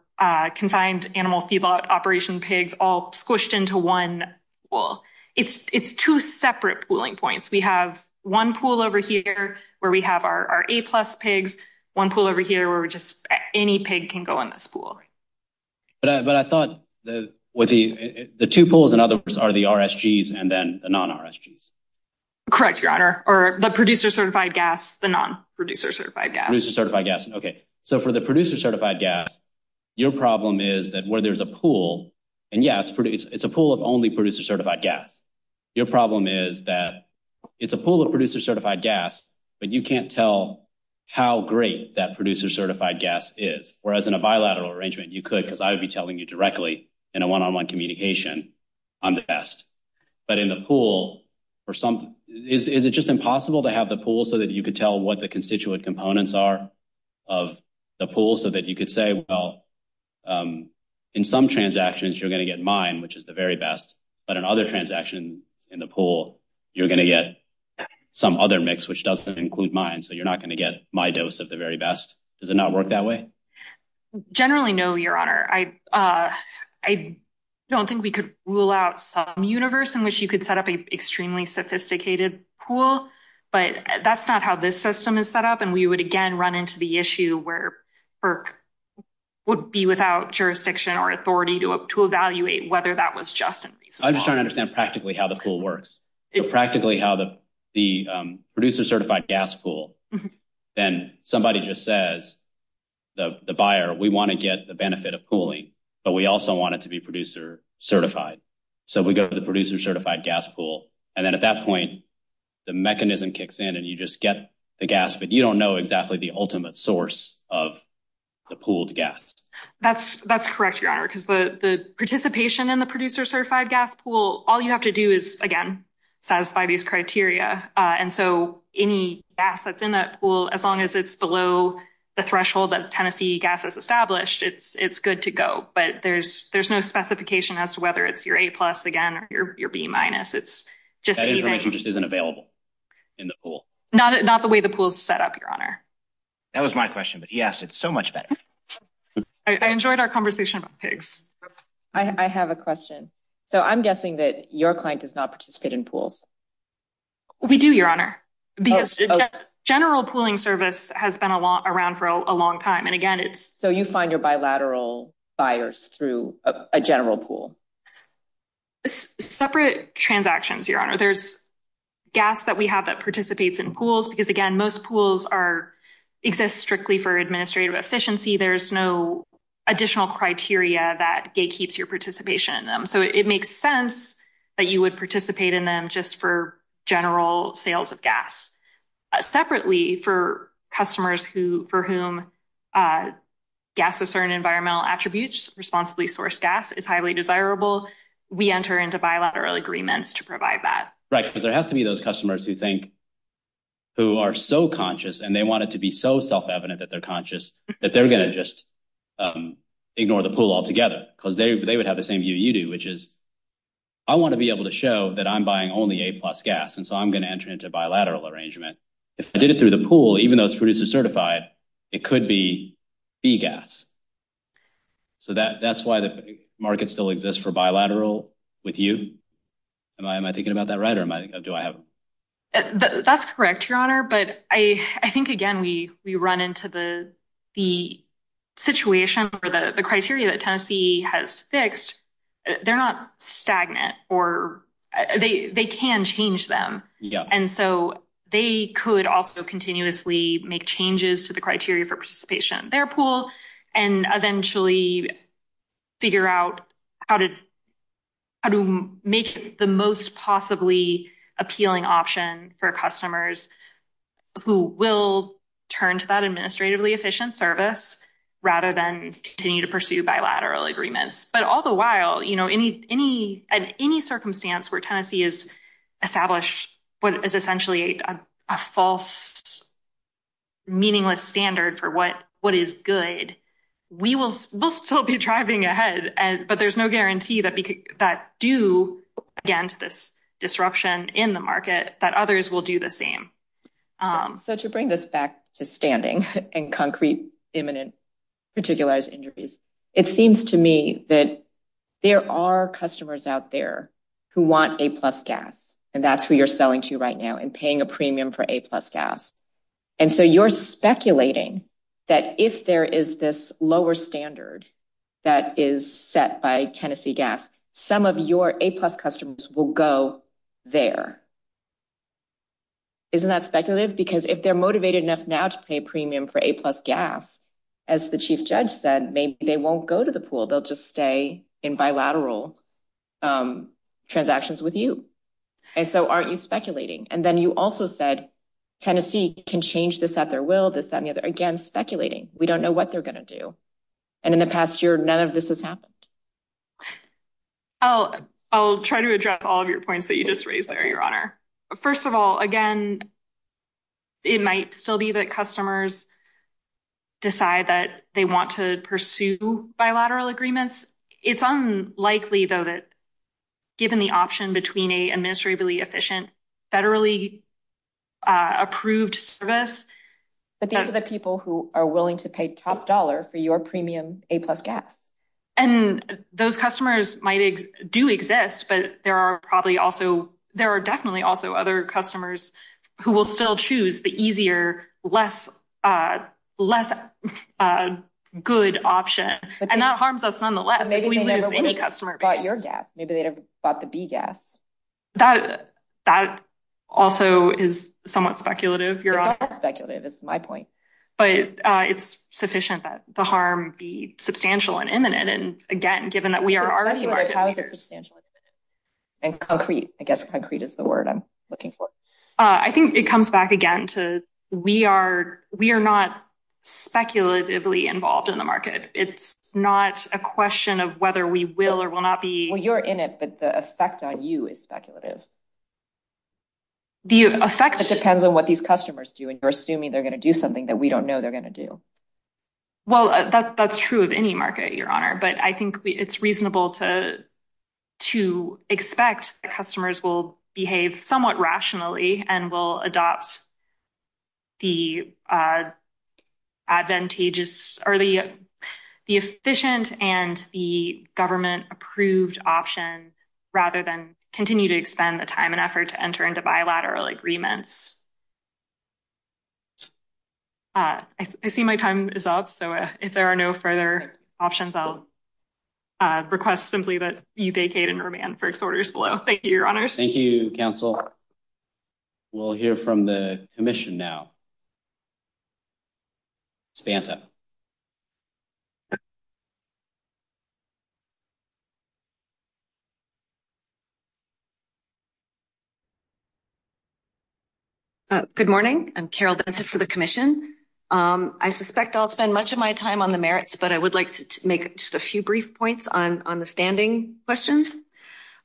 confined animal feedlot operation pigs all squished into one pool. It's two separate pooling points. We have one pool over here where we have our A-plus pigs, one pool over here where just any pig can go in this pool. But I thought the two pools, in other words, are the RSGs and then the non-RSGs. Correct, your honor. Or the producer certified gas, the non-producer certified gas. Producer certified gas. Okay. So for the producer certified gas, your problem is that where there's a pool, and yes, it's a pool of only producer certified gas. Your problem is that it's a pool of producer certified gas, but you can't tell how great that producer certified gas is. Whereas in a bilateral arrangement, you could because I would be telling you directly in a one-on-one communication I'm the best. But in the pool for some, is it just impossible to have the pool so that you could tell what the constituent components are of the pool so that you could say, well, in some transactions, you're going to get mine, which is the very best. But in other transactions in the pool, you're going to get some other mix, which doesn't include mine. So you're not going to get my dose of the very best. Does it not work that way? Generally, no, your honor. I don't think we could rule out some universe in which you could set up an extremely sophisticated pool, but that's not how this system is set up. And we would, again, run into the issue where FERC would be without jurisdiction or authority to evaluate whether that was justified. I'm trying to understand practically how the pool works. Practically how the producer certified gas pool, and somebody just says, the buyer, we want to get the benefit of pooling, but we also want it to be producer certified. So we go to the producer certified gas pool. And then at that point, the mechanism kicks in and you just get the gas, but you don't know exactly the ultimate source of the pooled gas. That's correct, your honor, because the participation in the producer certified gas pool, all you have to do is, again, satisfy these criteria. And so any gas that's in that pool, as long as it's below the threshold that Tennessee gas has established, it's good to go, but there's no specification as to whether it's your A plus again, or your B minus. That information just isn't available in the pool. Not the way the pool's set up, your honor. That was my question, but yes, it's so much better. I enjoyed our conversation. I have a question. So I'm guessing that your client does not participate in pools. We do, your honor. General pooling service has been around for a long time. And again, it's... So you find your bilateral buyers through a general pool? Separate transactions, your honor. There's gas that we have that participates in pools, because again, most pools exist strictly for administrative efficiency. There's no additional criteria that gatekeeps your participation in them. So it makes sense that you would participate in them just for general sales of gas. Separately for customers who, for whom gas with certain environmental attributes responsibly sourced gas is highly desirable, we enter into bilateral agreements to provide that. Right, because there has to be those customers who think, who are so conscious, and they want it to be so self-evident that they're conscious, that they're going to just ignore the pool altogether. Because they would have the same view you do, which is, I want to be able to show that I'm buying only A plus gas. And so I'm going to enter into a bilateral arrangement. If I did it through the pool, even though it's producer certified, it could be B gas. So that's why the market still exists for bilateral with you. Am I thinking about that right? That's correct, your honor. But I think, again, we run into the situation where the criteria that Tennessee has fixed, they're not stagnant. They can change them. And so they could also continuously make changes to the criteria for participation in their pool, and eventually figure out how to make the most possibly appealing option for customers who will turn to that administratively efficient service, rather than continue to pursue bilateral agreements. But all the while, you know, in any circumstance where Tennessee has established what is essentially a false, meaningless standard for what is good, we will still be driving ahead. But there's no guarantee that due against this disruption in the market, that others will do the same. So to bring this back to standing and concrete, imminent, particularized injuries, it seems to me that there are customers out there who want A plus gas. And that's who you're selling to right now and paying a premium for A plus gas. And so you're speculating that if there is this lower standard that is set by Tennessee gas, some of your A plus customers will go there. Isn't that speculative? Because if they're motivated enough now to pay a premium for A plus gas, as the chief judge said, they won't go to the pool, they'll just stay in bilateral transactions with you. And so aren't you speculating? And then you also said, Tennessee can change this at their will, this, that, and the other. Again, speculating, we don't know what they're going to do. And in the past year, none of this has happened. Oh, I'll try to address all of your points that you just raised there, Your Honor. First of all, again, it might still be that customers decide that they want to pursue bilateral agreements. It's unlikely, though, that given the option between a administratively efficient, federally approved service... But these are the people who are willing to pay top dollar for your premium A plus gas. And those customers might do exist, but there are probably also, there are definitely also other customers who will still choose the less good option. And that harms us nonetheless. Maybe they never bought your gas, maybe they never bought the B gas. That also is somewhat speculative, Your Honor. It's not speculative, it's my point. But it's sufficient that the harm be substantial and imminent. And again, given that we are already... And concrete, I guess concrete is the word I'm looking for. I think it comes back again to we are not speculatively involved in the market. It's not a question of whether we will or will not be... Well, you're in it, but the effect on you is speculative. The effect... It depends on what these customers do, and you're assuming they're going to do something that we don't know they're going to do. Well, that's true of any market, Your Honor. But I think it's reasonable to expect customers will behave somewhat rationally and will adopt the efficient and the government approved option, rather than continue to expend the time and effort to enter into bilateral agreements. I see my time is up. So, if there are no further options, I'll request simply that you vacate and remand for disorders below. Thank you, Your Honor. Thank you, counsel. We'll hear from the commission now. Spanta. Good morning. I'm Carol Denson for the commission. I suspect I'll spend much of my time on the merits, but I would like to make just a few brief points on the standing questions.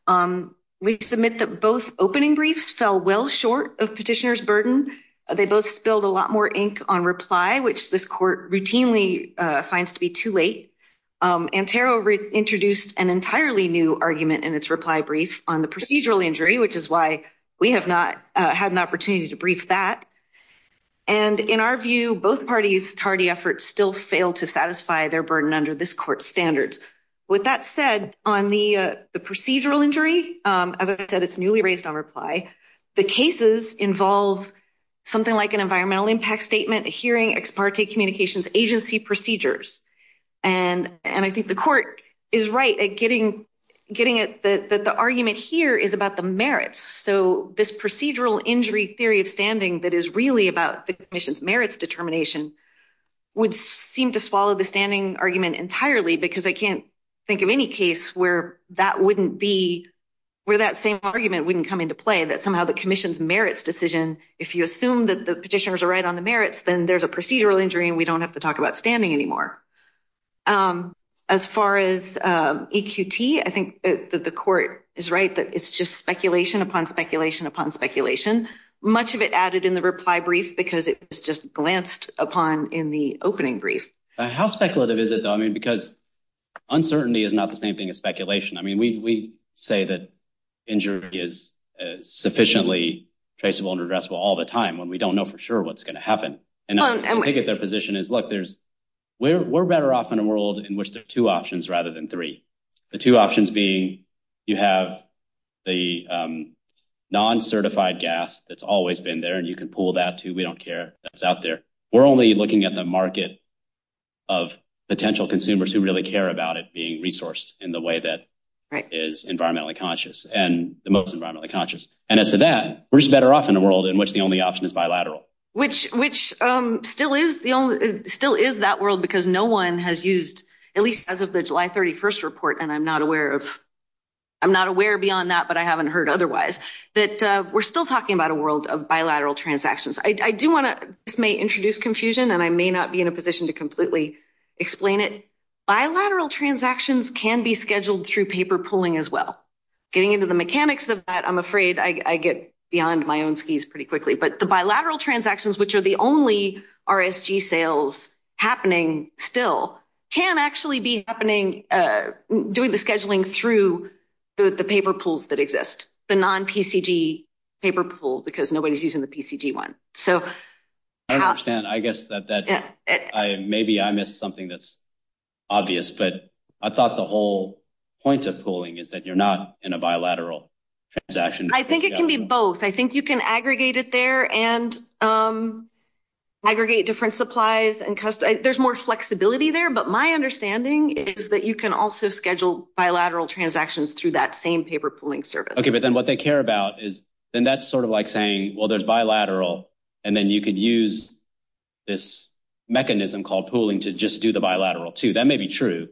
We submit that both opening briefs fell well short of petitioner's burden. They both spilled a lot more ink on reply, which this court routinely finds to be too late. Antero introduced an entirely new argument in its reply brief on the procedural injury, which is why we have not had opportunity to brief that. And in our view, both parties tardy efforts still fail to satisfy their burden under this court standards. With that said, on the procedural injury, as I said, it's newly raised on reply. The cases involve something like an environmental impact statement, hearing ex parte communications agency procedures. And I think the court is right at getting it that the argument here is about the merits. So this procedural injury theory of standing that is really about the commission's merits determination would seem to swallow the standing argument entirely because I can't think of any case where that wouldn't be where that same argument wouldn't come into play, that somehow the commission's merits decision, if you assume that the petitioners are right on the merits, then there's a procedural injury and we don't have to talk about standing anymore. As far as EQT, I think that the court is right that it's just speculation upon speculation upon speculation. Much of it added in the reply brief because it just glanced upon in the opening brief. How speculative is it though? I mean, because uncertainty is not the same thing as speculation. I mean, we say that injury is sufficiently traceable and addressable all the time when we don't know for sure what's going to happen. And I think that their position is, we're better off in a world in which there are two options rather than three. The two options being you have the non-certified gas that's always been there and you can pull that too, we don't care that's out there. We're only looking at the market of potential consumers who really care about it being resourced in the way that is environmentally conscious and the most environmentally conscious. And as for that, we're just better off in a world in which the only still is that world because no one has used at least as of the July 31st report. And I'm not aware of, I'm not aware beyond that, but I haven't heard otherwise that we're still talking about a world of bilateral transactions. I do want to, this may introduce confusion and I may not be in a position to completely explain it. Bilateral transactions can be scheduled through paper pulling as well. Getting into the mechanics of that, I'm afraid I get beyond my own skis pretty quickly, but the bilateral transactions, which are the only RSG sales happening still can actually be happening during the scheduling through the paper pools that exist, the non-PCG paper pool, because nobody's using the PCG one. I don't understand. I guess that maybe I missed something that's obvious, but I thought the whole point of pooling is that you're not in a bilateral transaction. I think it can be both. I think you can aggregate it there and aggregate different supplies. There's more flexibility there, but my understanding is that you can also schedule bilateral transactions through that same paper pooling service. Okay. But then what they care about is, then that's sort of like saying, well, there's bilateral and then you could use this mechanism called pooling to just do the bilateral too. That may be true,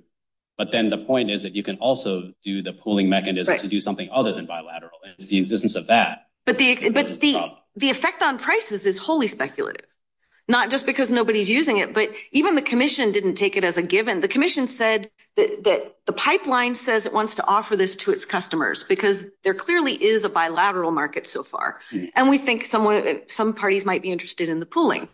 but then the point is that you can also do the pooling mechanism to do something other than bilateral and the existence of that. But the effect on prices is wholly speculative, not just because nobody's using it, but even the commission didn't take it as a given. The commission said that the pipeline says it wants to offer this to its customers because there clearly is a bilateral market so far. And we think some parties might be interested in the pooling.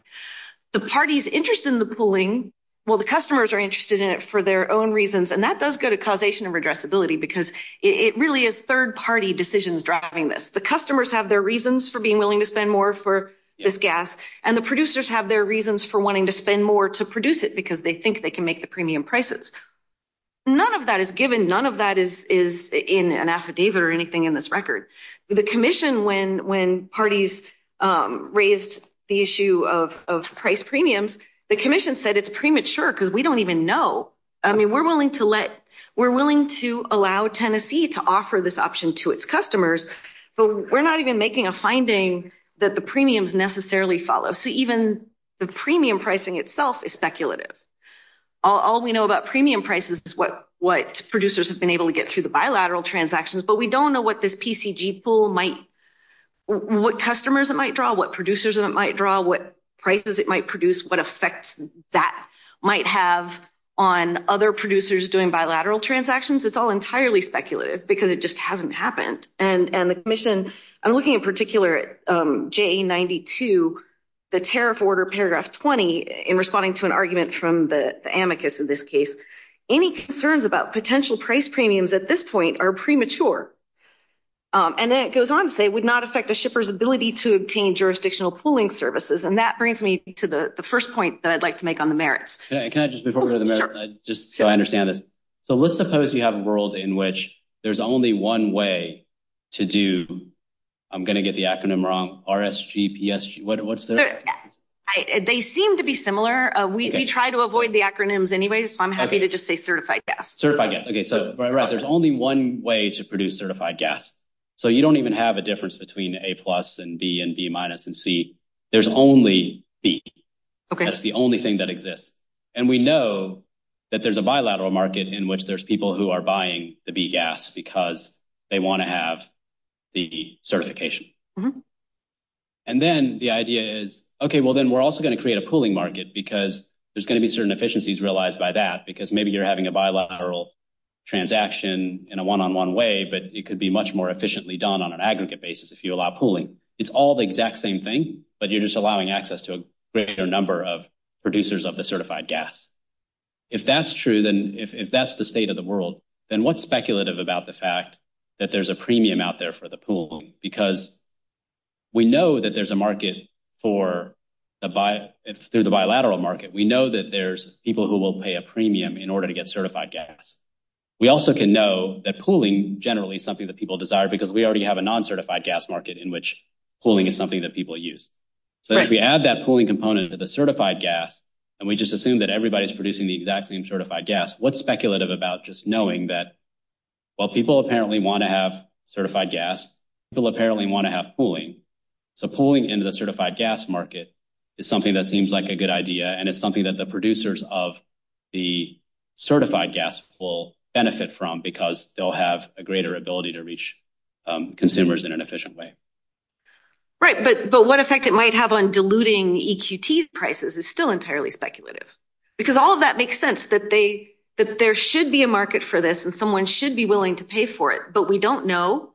The parties interested in the pooling, well, the customers are interested in it for their own reasons. And that does go to causation of addressability because it really is third party decisions driving this. The customers have their reasons for being willing to spend more for this gas and the producers have their reasons for wanting to spend more to produce it because they think they can make the premium prices. None of that is given. None of that is in an affidavit or anything in this record. The commission, when parties raised the issue of price premiums, the commission said it's premature because we don't even know. I mean, we're willing to let, we're willing to allow Tennessee to offer this option to its customers, but we're not even making a finding that the premiums necessarily follow. So even the premium pricing itself is speculative. All we know about premium prices is what producers have been able to get through the bilateral transactions, but we don't know what this PCG pool might, what customers it might draw, what producers it might draw, what prices it might produce, what effects that might have on other producers doing bilateral transactions. It's all entirely speculative because it just hasn't happened. And the commission, I'm looking in particular at JA92, the tariff order paragraph 20 in responding to an argument from the amicus in this case, any concerns about potential price premiums at this point are premature. And then it goes on to say it would not affect the shipper's ability to obtain jurisdictional pooling services. And that brings me to the first point that I'd like to make on the merits. Can I just, before we go to the merits, just so I understand this. So let's suppose you have a world in which there's only one way to do, I'm going to get the acronym wrong, RSGPSG, what's there? They seem to be similar. We try to avoid the acronyms anyway, so I'm happy to just say certified gas. Certified gas, okay. So there's only one way to produce certified gas. So you don't even have a difference between A plus and B and B minus and C. There's only B. Okay. That's the only thing that exists. And we know that there's a bilateral market in which there's people who are buying the B gas because they want to have the certification. And then the idea is, okay, well, then we're also going to create a pooling market because there's going to be certain efficiencies realized by that, because maybe you're having a bilateral transaction in a one-on-one way, but it could be much more efficiently done on an aggregate basis if you allow pooling. It's all the exact same thing, but you're just allowing access to a greater number of producers of the certified gas. If that's true, then if that's the state of the world, then what's speculative about the fact that there's a premium out there for the pool? Because we know that there's a market for the bilateral market. We know that there's people who will pay a premium in order to get at least something that people desire, because we already have a non-certified gas market in which pooling is something that people use. So if we add that pooling component to the certified gas, and we just assume that everybody's producing the exact same certified gas, what's speculative about just knowing that while people apparently want to have certified gas, people apparently want to have pooling. So pooling into the certified gas market is something that seems like a good idea, and it's something that the producers of the certified gas will benefit from because they'll have a greater ability to reach consumers in an efficient way. Right, but what effect it might have on diluting EQT prices is still entirely speculative, because all of that makes sense that there should be a market for this and someone should be willing to pay for it, but we don't know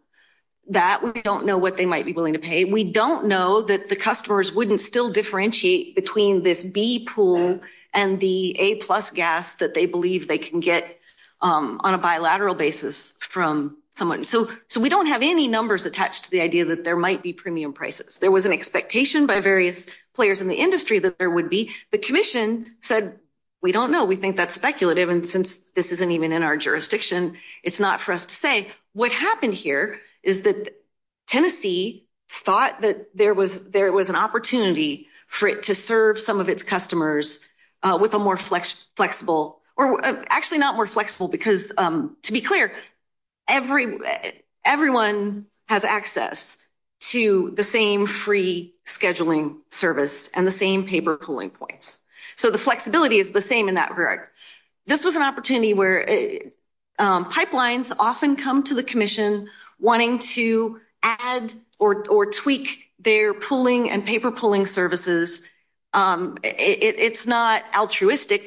that. We don't know what they might be willing to pay. We don't know that the customers wouldn't still differentiate between this B pool and the A plus gas that they believe they can get on a bilateral basis from someone. So we don't have any numbers attached to the idea that there might be premium prices. There was an expectation by various players in the industry that there would be. The commission said, we don't know. We think that's speculative, and since this isn't even in our jurisdiction, it's not for us to say. What happened here is that Tennessee thought that there was an opportunity for it to serve some of its customers with a more flexible, or actually not more flexible, because to be clear, everyone has access to the same free scheduling service and the same paper pooling points. So the flexibility is the same in that regard. This was an opportunity where pipelines often come to the commission wanting to add or tweak their pooling and paper they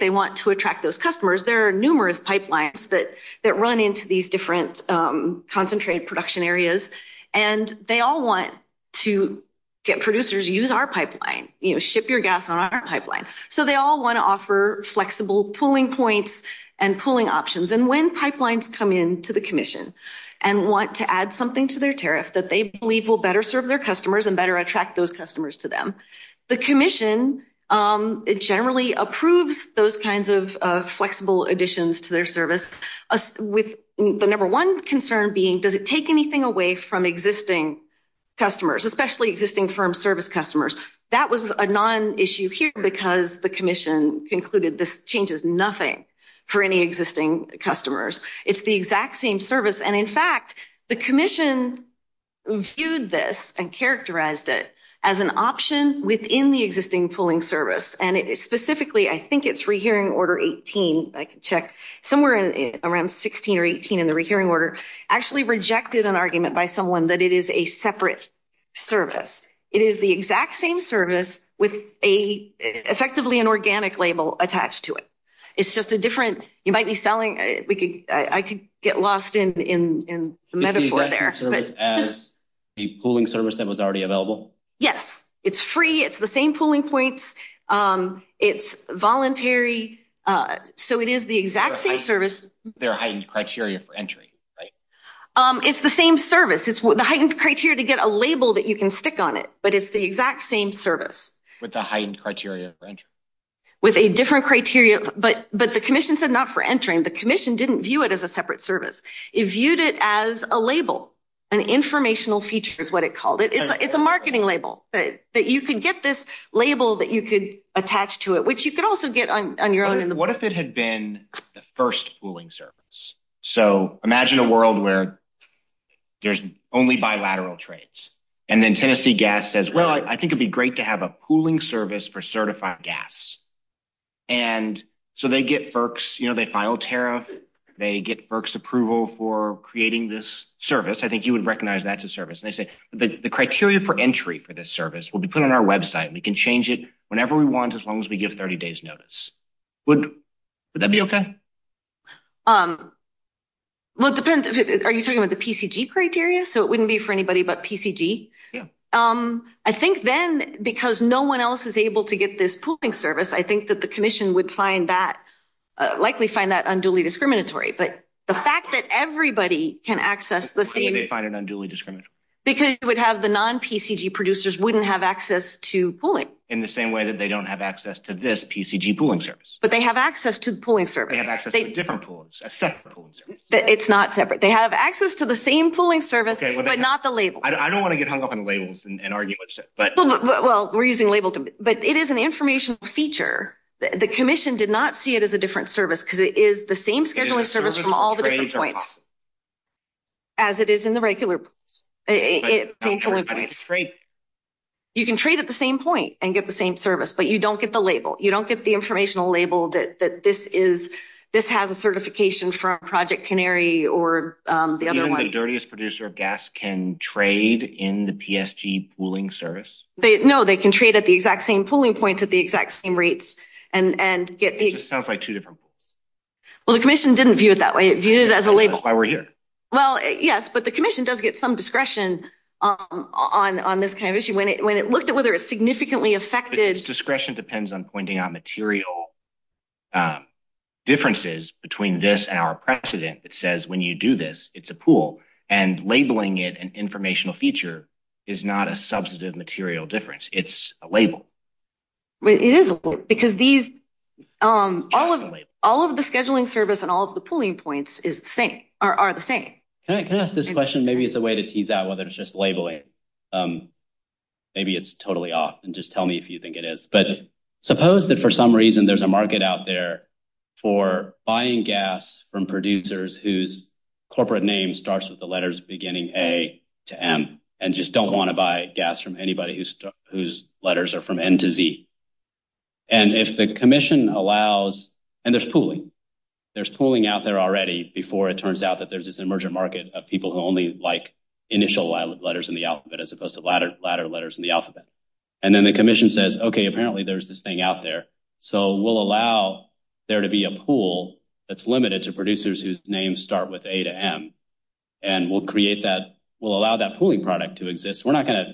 want to attract those customers. There are numerous pipelines that run into these different concentrate production areas, and they all want to get producers to use our pipeline, ship your gas on our pipeline. So they all want to offer flexible pooling points and pooling options. And when pipelines come in to the commission and want to add something to their tariff that they believe will better serve their customers and better attract those customers to them, the commission generally approves those kinds of flexible additions to their service, with the number one concern being, does it take anything away from existing customers, especially existing firm service customers? That was a non-issue here because the commission concluded this changes nothing for any existing customers. It's the exact same service, and in fact, the commission viewed this and characterized it as an option within the existing pooling service. And specifically, I think it's rehearing order 18, I can check, somewhere around 16 or 18 in the rehearing order, actually rejected an argument by someone that it is a separate service. It is the exact same service with effectively an organic label attached to it. It's just a different, you might be selling, I could get lost in the metaphor there. The pooling service that was already available? Yes. It's free. It's the same pooling points. It's voluntary. So it is the exact same service. There are heightened criteria for entry, right? It's the same service. It's the heightened criteria to get a label that you can stick on it, but it's the exact same service. With the heightened criteria for entry? With a different criteria, but the commission said not for entering. The commission didn't view it as a separate service. It viewed it as a label, an informational feature is what it called. It's a marketing label that you can get this label that you could attach to it, which you could also get on your own. What if it had been the first pooling service? So imagine a world where there's only bilateral trades. And then Tennessee Gas says, well, I think it'd be great to have a pooling service. And so they get FERC's, you know, they file tariff, they get FERC's approval for creating this service. I think you would recognize that's a service. And they say, the criteria for entry for this service will be put on our website. We can change it whenever we want, as long as we get 30 days notice. Would that be okay? Well, it depends. Are you talking about the PCG criteria? So it wouldn't be for anybody but PCG? Yeah. I think then, because no one else is able to get this pooling service, I think that the commission would find that, likely find that unduly discriminatory. But the fact that everybody can access the same- They find it unduly discriminatory. Because it would have the non-PCG producers wouldn't have access to pooling. In the same way that they don't have access to this PCG pooling service. But they have access to the pooling service. They have access to different poolings, a separate pooling service. It's not separate. They have access to the same pooling service, but not the label. I don't want to get hung up on but- Well, we're using labels. But it is an information feature. The commission did not see it as a different service because it is the same scheduling service from all the different points. As it is in the regular- You can trade at the same point and get the same service, but you don't get the label. You don't get the informational label that this has a certification from Project Canary or the other- Do you know why the dirtiest producer of gas can trade in the PSG pooling service? No, they can trade at the exact same pooling points at the exact same rates and get- It just sounds like two different pools. Well, the commission didn't view it that way. It viewed it as a label. That's why we're here. Well, yes, but the commission does get some discretion on this kind of issue. When it looked at whether it significantly affected- Discretion depends on pointing out material differences between this and our precedent that says when you do this, it's a pool. Labeling it an informational feature is not a substantive material difference. It's a label. It is a label because all of the scheduling service and all of the pooling points are the same. Can I ask this question? Maybe it's a way to tease out whether it's just labeling. Maybe it's totally off. Just tell me if you think it is. Suppose that for some reason there's a market out there for buying gas from producers whose corporate name starts with the letters beginning A to M and just don't want to buy gas from anybody whose letters are from N to Z. If the commission allows- There's pooling. There's pooling out there already before it turns out that there's this emergent market of people who only like initial letters in the alphabet as opposed to latter letters in the alphabet. Then the commission says, okay, apparently there's this thing out there. We'll allow there to be a pool that's limited to producers whose names start with A to M, and we'll allow that pooling product to exist. We're not going to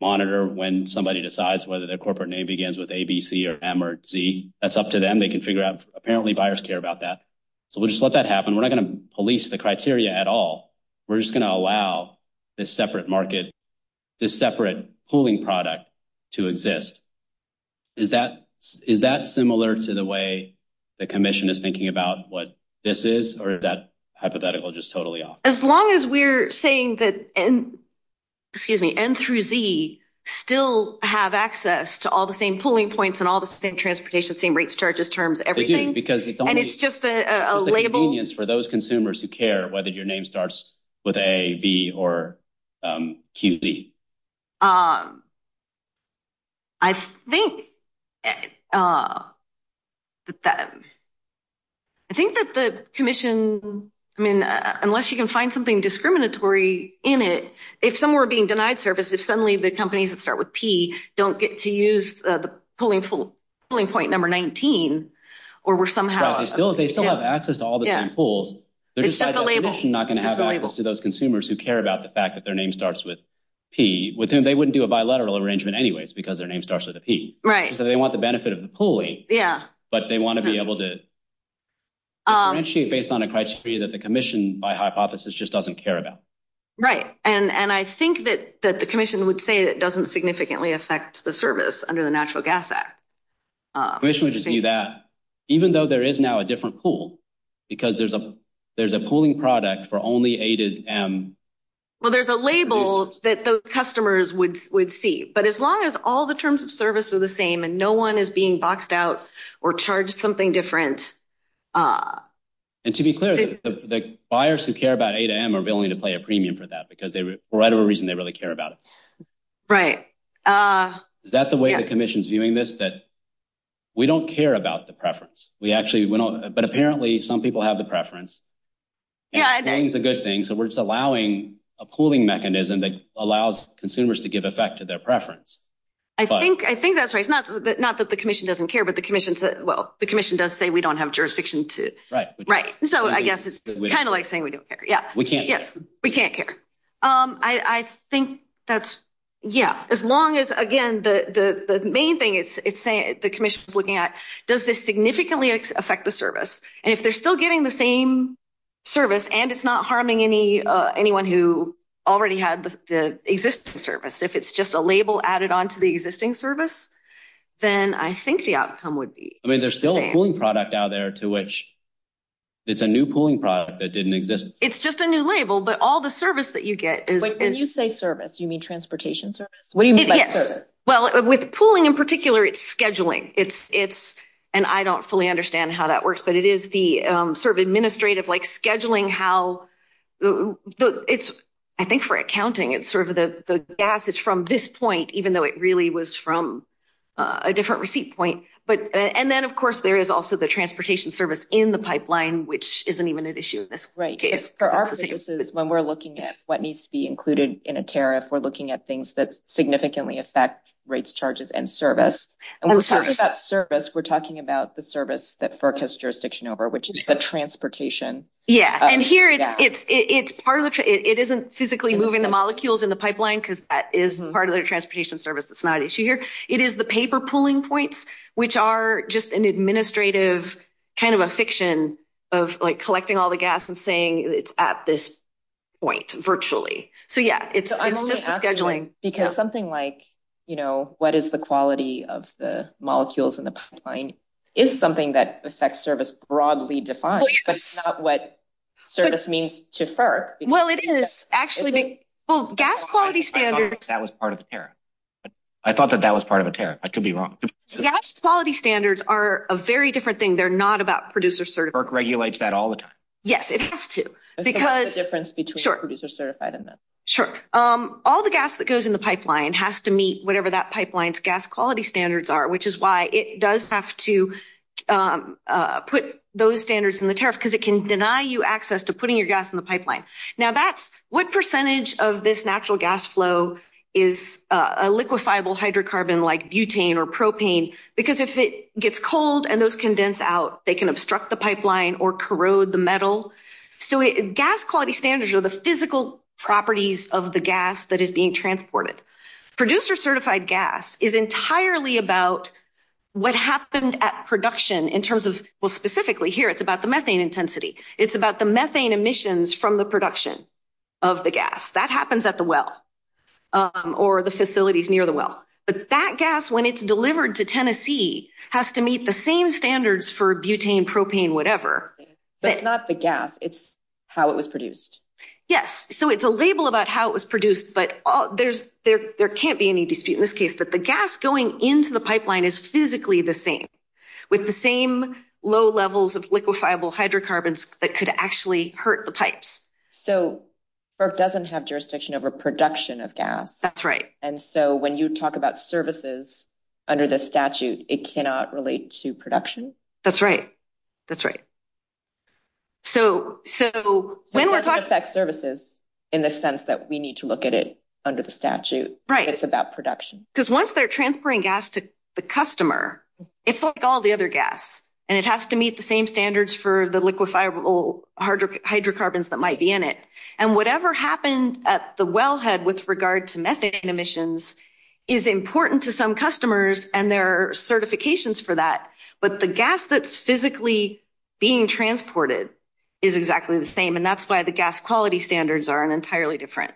monitor when somebody decides whether their corporate name begins with A, B, C, or M, or Z. That's up to them. They can figure out. Apparently, buyers care about that. We'll just let that happen. We're not going to police the criteria at all. We're just going to allow this separate market, this separate pooling product to exist. Is that similar to the way the commission is thinking about what this is, or is that hypothetical just totally off? As long as we're saying that N through Z still have access to all the same pooling points and all the same transportation, same rates, charges, terms, everything- Again, because it's only- Whether your name starts with A, B, or Q, Z. I think that the commission, I mean, unless you can find something discriminatory in it, if some were being denied service, if suddenly the companies that start with P don't get to use the pooling point number 19, or were somehow- They still have access to all the same pools. They're just not going to have access to those consumers who care about the fact that their name starts with P. They wouldn't do a bilateral arrangement anyways, because their name starts with a P. They want the benefit of the pooling, but they want to be able to differentiate based on a criteria that the commission, by hypothesis, just doesn't care about. Right. I think that the commission would say it doesn't significantly affect the service under the Natural Gas Act. The commission would just do that, even though there is now a different pool, because there's a pooling product for only A to M. Well, there's a label that those customers would see, but as long as all the terms of service are the same and no one is being boxed out or charged something different- And to be clear, the buyers who care about A to M are willing to pay a premium for that, because for whatever reason, they really care about it. Right. Is that the way the commission's viewing this? That we don't care about the preference. But apparently, some people have the preference. Yeah. Paying is a good thing. So we're just allowing a pooling mechanism that allows consumers to give effect to their preference. I think that's right. Not that the commission doesn't care, but the commission does say we don't have jurisdiction to- Right. Right. So I guess it's kind of like saying we don't care. We can't care. Yes. We can't care. I think that's- Yeah. As long as, again, the main thing the commission is looking at, does this significantly affect the service? And if they're still getting the same service and it's not harming anyone who already had the existing service, if it's just a label added onto the existing service, then I think the outcome would be the same. I mean, there's still a pooling product out there to which it's a new pooling product that didn't exist. It's just a new label, but all the service that you get is- When you say service, you mean transportation service? What do you mean by service? Well, with pooling in particular, it's scheduling. And I don't fully understand how that works, but it is the sort of administrative, like scheduling how... It's, I think for accounting, it's sort of the gas is from this point, even though it really was from a different receipt point. And then, of course, there is also the transportation service in the pipeline, which isn't even an issue in this case. For our purposes, when we're looking at what needs to be included in a tariff, we're looking at things that significantly affect rates, charges, and service. And when we're talking about service, we're talking about the service that FERC has jurisdiction over, which is the transportation. Yeah. And here, it isn't physically moving the molecules in the pipeline, because that is part of their transportation service. It's not an issue here. It is the paper pooling points, which are just an administrative kind of a fiction of collecting all the gas and saying it's at this point, virtually. So, yeah, it's scheduling. Because something like, what is the quality of the molecules in the pipeline, is something that the sex service broadly defined. That's not what service means to FERC. Well, it is actually... Well, gas quality standards... That was part of the tariff. I thought that that was part of a tariff. I could be wrong. Gas quality standards are a very different thing. They're not about producer certification. FERC regulates that all the time. Yes, it has to. Because... I think that's the difference between producer certified and not. Sure. All the gas that goes in the pipeline has to meet whatever that pipeline's gas quality standards are, which is why it does have to put those standards in the tariff, because it can deny you access to putting your gas in the pipeline. Now, what percentage of this natural gas flow is a liquefiable hydrocarbon like butane or propane? Because if it gets cold and those condense out, they can obstruct the pipeline or corrode the metal. So, gas quality standards are the physical properties of the gas that is being transported. Producer certified gas is entirely about what happened at production in terms of... Well, specifically here, it's about the methane intensity. It's about the methane emissions from the production of the gas. That happens at the well or the facilities near the well. But that gas, when it's delivered to Tennessee, has to meet the same standards for butane, propane, whatever. But not the gas. It's how it was produced. Yes. So, it's a label about how it was produced, but there can't be any dispute in this case. But the gas going into the pipeline is physically the same, with the same low levels of liquefiable hydrocarbons that could actually hurt the pipes. So, FERC doesn't have jurisdiction over production of gas. That's right. And so, when you talk about services under the statute, it cannot relate to production? That's right. That's right. So, when we're talking about services, in the sense that we need to look at it under the statute, it's about production. Because once they're transferring gas to the customer, it's like all the other gas, and it has to meet the same standards for the liquefiable hydrocarbons that might be in it. And whatever happened at the wellhead with regard to methane emissions is important to some customers, and there are certifications for that. But the gas that's physically being transported is exactly the same. And that's why the gas quality standards are an entirely different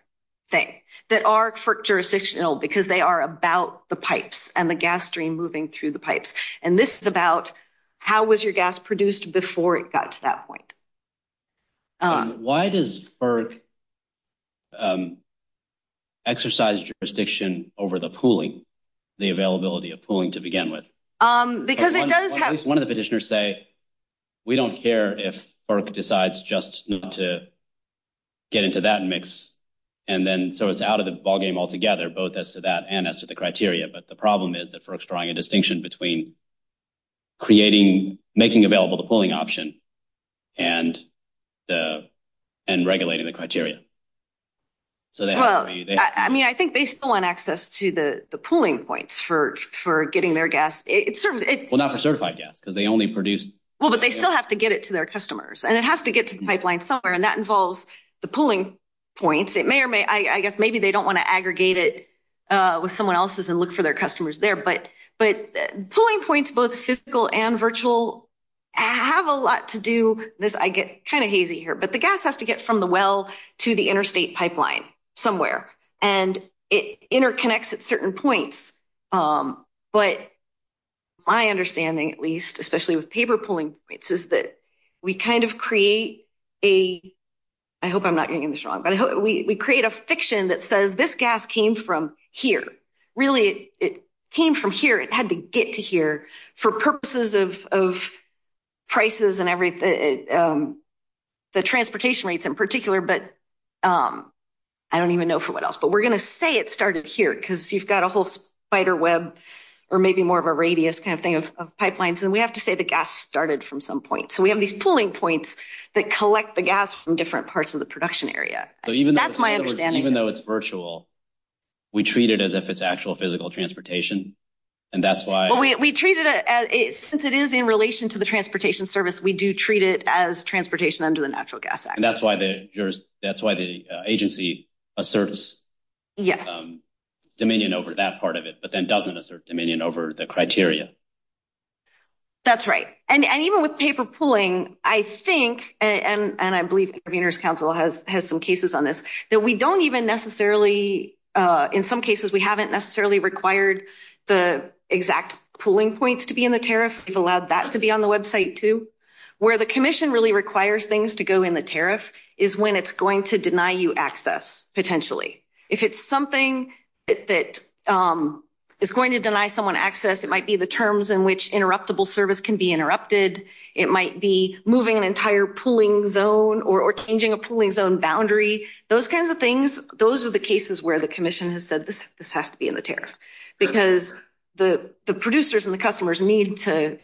thing. They are FERC jurisdictional because they are about the pipes and the gas stream moving through the pipes. And this is about how was your gas produced before it got to that point. Why does FERC exercise jurisdiction over the pooling, the availability of pooling to begin with? Because it does have... One of the petitioners say, we don't care if FERC decides just not to get into that mix. And then, so it's out of the ballgame altogether, both as to that and as to the criteria. But the problem is that FERC's drawing a distinction between creating, making available the pooling option and regulating the criteria. So they have to... Well, I mean, I think they still want access to the pooling points for getting their gas. Well, not for certified gas, because they only produce... Well, but they still have to get it to their customers, and it has to get to the pipeline somewhere. And that involves the pooling points. It may or may... I guess maybe they don't want to aggregate it with someone else's and look for their customers there. But pooling points, both physical and virtual, have a lot to do with... I get kind of hazy here, but the gas has to get from the well to the interstate pipeline somewhere, and it interconnects at certain points. But my understanding, at least, especially with paper pooling points, is that we kind of create a... I hope I'm not getting this wrong, but we create a fiction that says, this gas came from here for purposes of prices and the transportation rates in particular, but I don't even know for what else. But we're going to say it started here, because you've got a whole spider web, or maybe more of a radius kind of thing of pipelines, and we have to say the gas started from some point. So we have these pooling points that collect the gas from different parts of the production area. That's my understanding. So even though it's virtual, we treat it as if it's actual physical transportation, and that's why... Well, we treat it as... Since it is in relation to the transportation service, we do treat it as transportation under the Natural Gas Act. And that's why the agency asserts dominion over that part of it, but then doesn't assert dominion over the criteria. That's right. And even with paper pooling, I think, and I believe Conveners Council has some cases on this, that we don't even necessarily... In some cases, we haven't necessarily required the exact pooling points to be in the tariff. We've allowed that to be on the website too. Where the commission really requires things to go in the tariff is when it's going to deny you access potentially. If it's something that is going to deny someone access, it might be the terms in which interruptible service can be interrupted. It might be moving an entire pooling zone or changing a pooling zone boundary. Those kinds of things, those are the cases where the commission has said, this has to be in the tariff, because the producers and the customers need to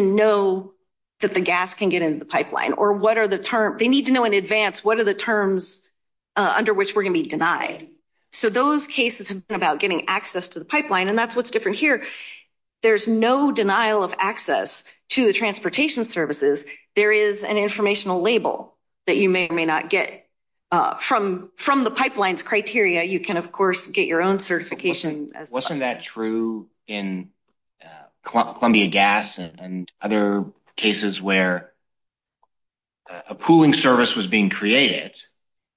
know that the gas can get into the pipeline, or what are the terms... They need to know in advance what are the terms under which we're going to be denied. So those cases have been about getting access to the pipeline, and that's what's different here. There's no denial of access to the transportation services. There is an informational label that you may or may not get. From the pipeline's criteria, you can, of course, get your own certification. Wasn't that true in Columbia Gas and other cases where a pooling service was being created,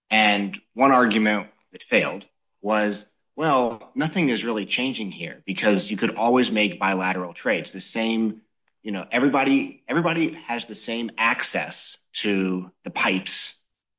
and one argument that failed was, well, nothing is really changing here, because you could always make bilateral trades. Everybody has the same access to the pipes,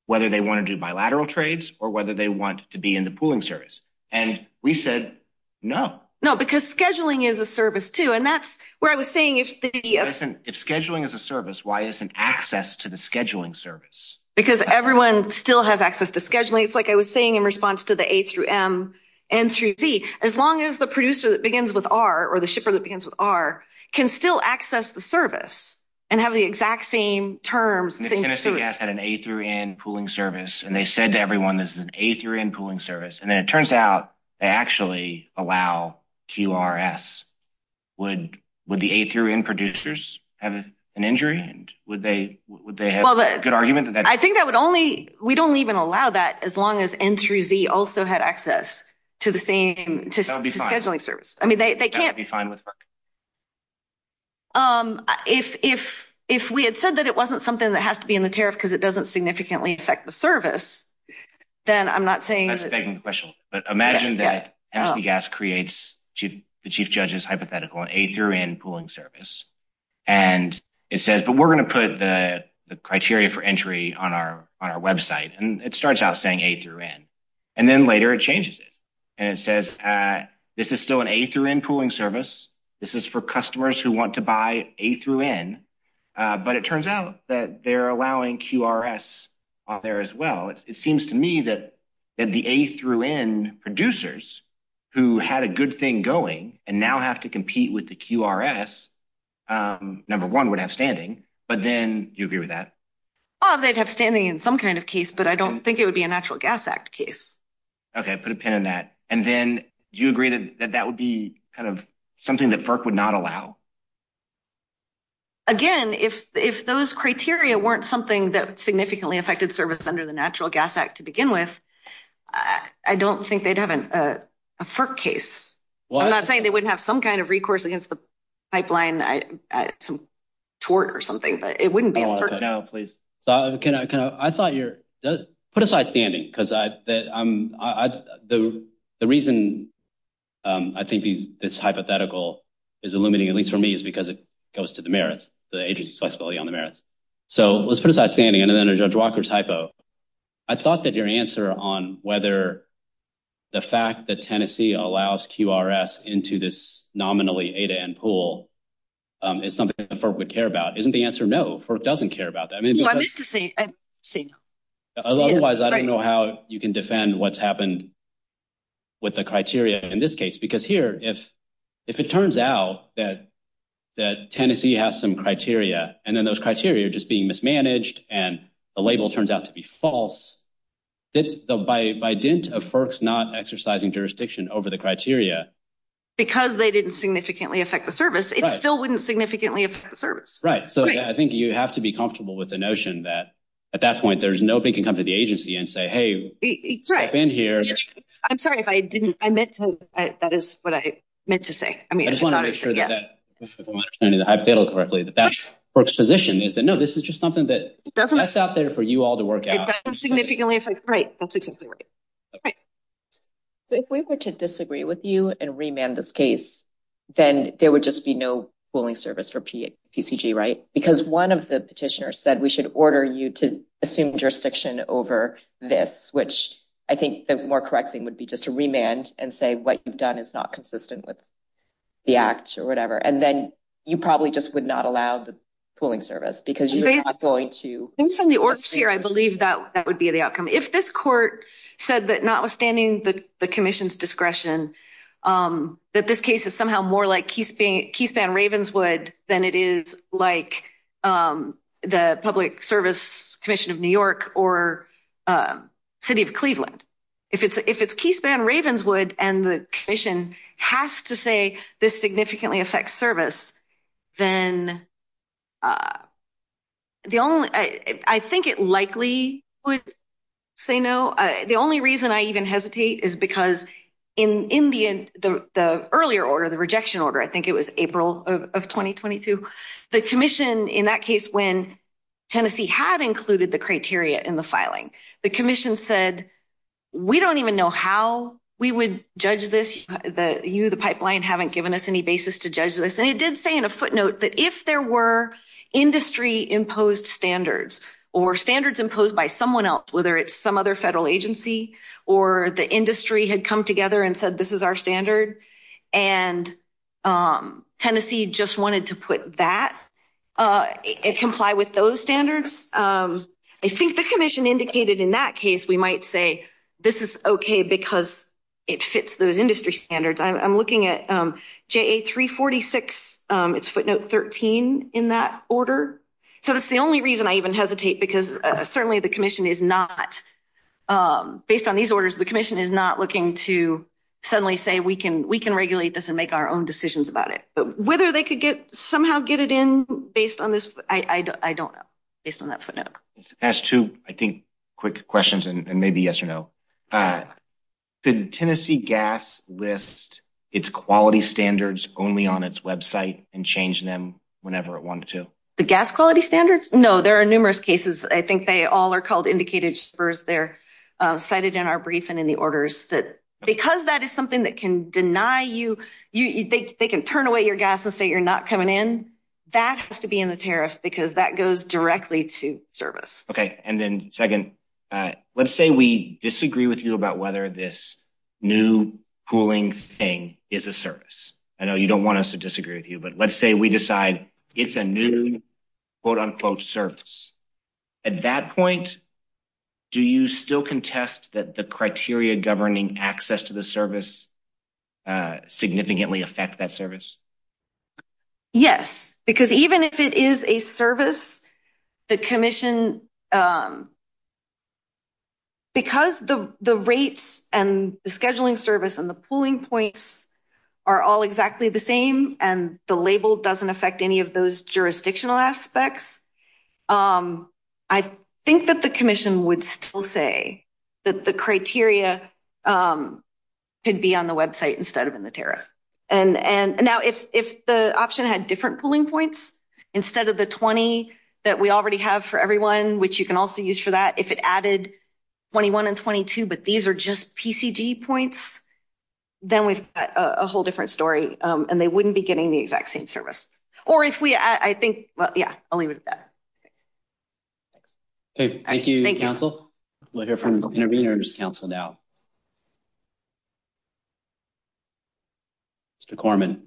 whether they want to do bilateral trades or whether they want to be in the pooling service, and we said no. No, because scheduling is a service too, and that's where I was saying if the... If scheduling is a service, why isn't access to the scheduling service? Because everyone still has access to scheduling. It's like I was saying in response to the A through M, N through Z. As long as the producer that begins with R or the shipper that begins with R can still access the service and have the exact same terms. If Tennessee Gas had an A through N pooling service, and they said to everyone this is an A through N pooling service, and then it turns out they actually allow QRS, would the A through N producers have an injury? Would they have a good argument that that... I think that would only... We don't even allow that as long as N through Z also had access to the same... That would be fine. ...scheduling service. I mean, they can't... That would be fine with... If we had said that it wasn't something that has to be in the tariff because it doesn't significantly affect the service, then I'm not saying that... I was begging the question, but imagine that SBGAS creates the chief judge's hypothetical on A through N pooling service, and it says, but we're going to put the criteria for entry on our website, and it starts out saying A through N, and then later it changes it, and it says this is still an A through N pooling service. This is for customers who want to buy A through N, but it turns out that they're allowing QRS out there as well. It seems to me that the A through N producers who had a good thing going and now have to compete with the QRS, number one, would have standing, but then... Do you agree with that? Oh, they'd have standing in some kind of case, but I don't think it would be a Natural Gas Act case. Okay. I put a pin in that. And then do you agree that that would be kind of something that FERC would not allow? Again, if those criteria weren't something that significantly affected service under the Natural Gas Act to begin with, I don't think they'd have a FERC case. I'm not saying they wouldn't have some kind of recourse against the pipeline toward or something, but it wouldn't be a FERC case. Okay. Put aside standing, because the reason I think it's hypothetical is illuminating, at least for me, is because it goes to the merits, the agency's flexibility on the merits. So let's put aside standing, and then under Judge Walker's hypo, I thought that your answer on whether the fact that Tennessee allows QRS into this nominally A to N pool is something that FERC would care about. Isn't the answer no? FERC doesn't care about that. Otherwise, I don't know how you can defend what's happened with the criteria in this case. Because here, if it turns out that Tennessee has some criteria, and then those criteria are just being mismanaged, and the label turns out to be false, by dint of FERC's not exercising jurisdiction over the criteria... Because they didn't significantly affect the service, it still wouldn't significantly affect the service. Right. So I think you have to be comfortable with the notion that, at that point, nobody can come to the agency and say, hey... I'm sorry if I didn't... I meant to... That is what I meant to say. I mean... I just want to make sure that that... If I'm understanding the hypothetical correctly, that that FERC's position is that, no, this is just something that's out there for you all to work out. It doesn't significantly affect... Right. That's exactly right. Okay. So if we were to disagree with you and remand this case, then there would just be no pooling service for PCG, right? Because one of the petitioners said, we should order you to assume jurisdiction over this, which I think the more correct thing would be just to remand and say, what you've done is not consistent with the act or whatever. And then you probably just would not allow the pooling service, because you're not going to... Based on the orders here, I believe that would be the outcome. If this court said that, notwithstanding the commission's discretion, that this case is somehow more like Keith Van Ravenswood than it is like the Public Service Commission of New York or City of Cleveland. If it's Keith Van Ravenswood and the commission has to say this significantly affects service, then the only... I think it likely would say no. The only reason I even hesitate is because in the earlier order, the rejection order, I think it was April of 2022, the commission in that case when Tennessee had included the criteria in the filing, the commission said, we don't even know how we would judge this. You, the pipeline, haven't given us any basis to judge this. And it did say in a footnote that if there were industry-imposed standards or standards imposed by someone else, whether it's some other federal agency or the industry had come together and said, this is our standard. And Tennessee just wanted to put that, comply with those standards. I think the commission indicated in that case, we might say, this is okay because it fits those industry standards. I'm looking at JA346, it's footnote 13 in that order. So that's the only reason I even hesitate because certainly the commission is not based on these orders. The commission is not looking to suddenly say, we can regulate this and make our own decisions about it. But whether they could somehow get it in based on this, I don't know, based on that footnote. Just two, I think, quick questions and maybe yes or no. Did Tennessee Gas list its quality standards only on its website and change them whenever it wanted to? The gas quality standards? No, there are numerous cases. I think they all are called spurs. They're cited in our brief and in the orders that because that is something that can deny you, they can turn away your gas and say, you're not coming in. That has to be in the tariff because that goes directly to service. Okay. And then second, let's say we disagree with you about whether this new cooling thing is a service. I know you don't want us to disagree with you, but let's say we decide it's a new quote unquote service. At that point, do you still contest that the criteria governing access to the service significantly affect that service? Yes, because even if it is a service, the commission, because the rates and the scheduling service and the pooling points are all exactly the same and the label doesn't affect any of those jurisdictional aspects, I think that the commission would still say that the criteria could be on the website instead of in the tariff. And now if the option had different pooling points instead of the 20 that we already have for everyone, which you can also use for that, if it added 21 and 22, but these are just getting the exact same service. Or if we, I think, well, yeah, I'll leave it at that. Okay. Thank you, counsel. We'll hear from the intervener's counsel now. Mr. Corman.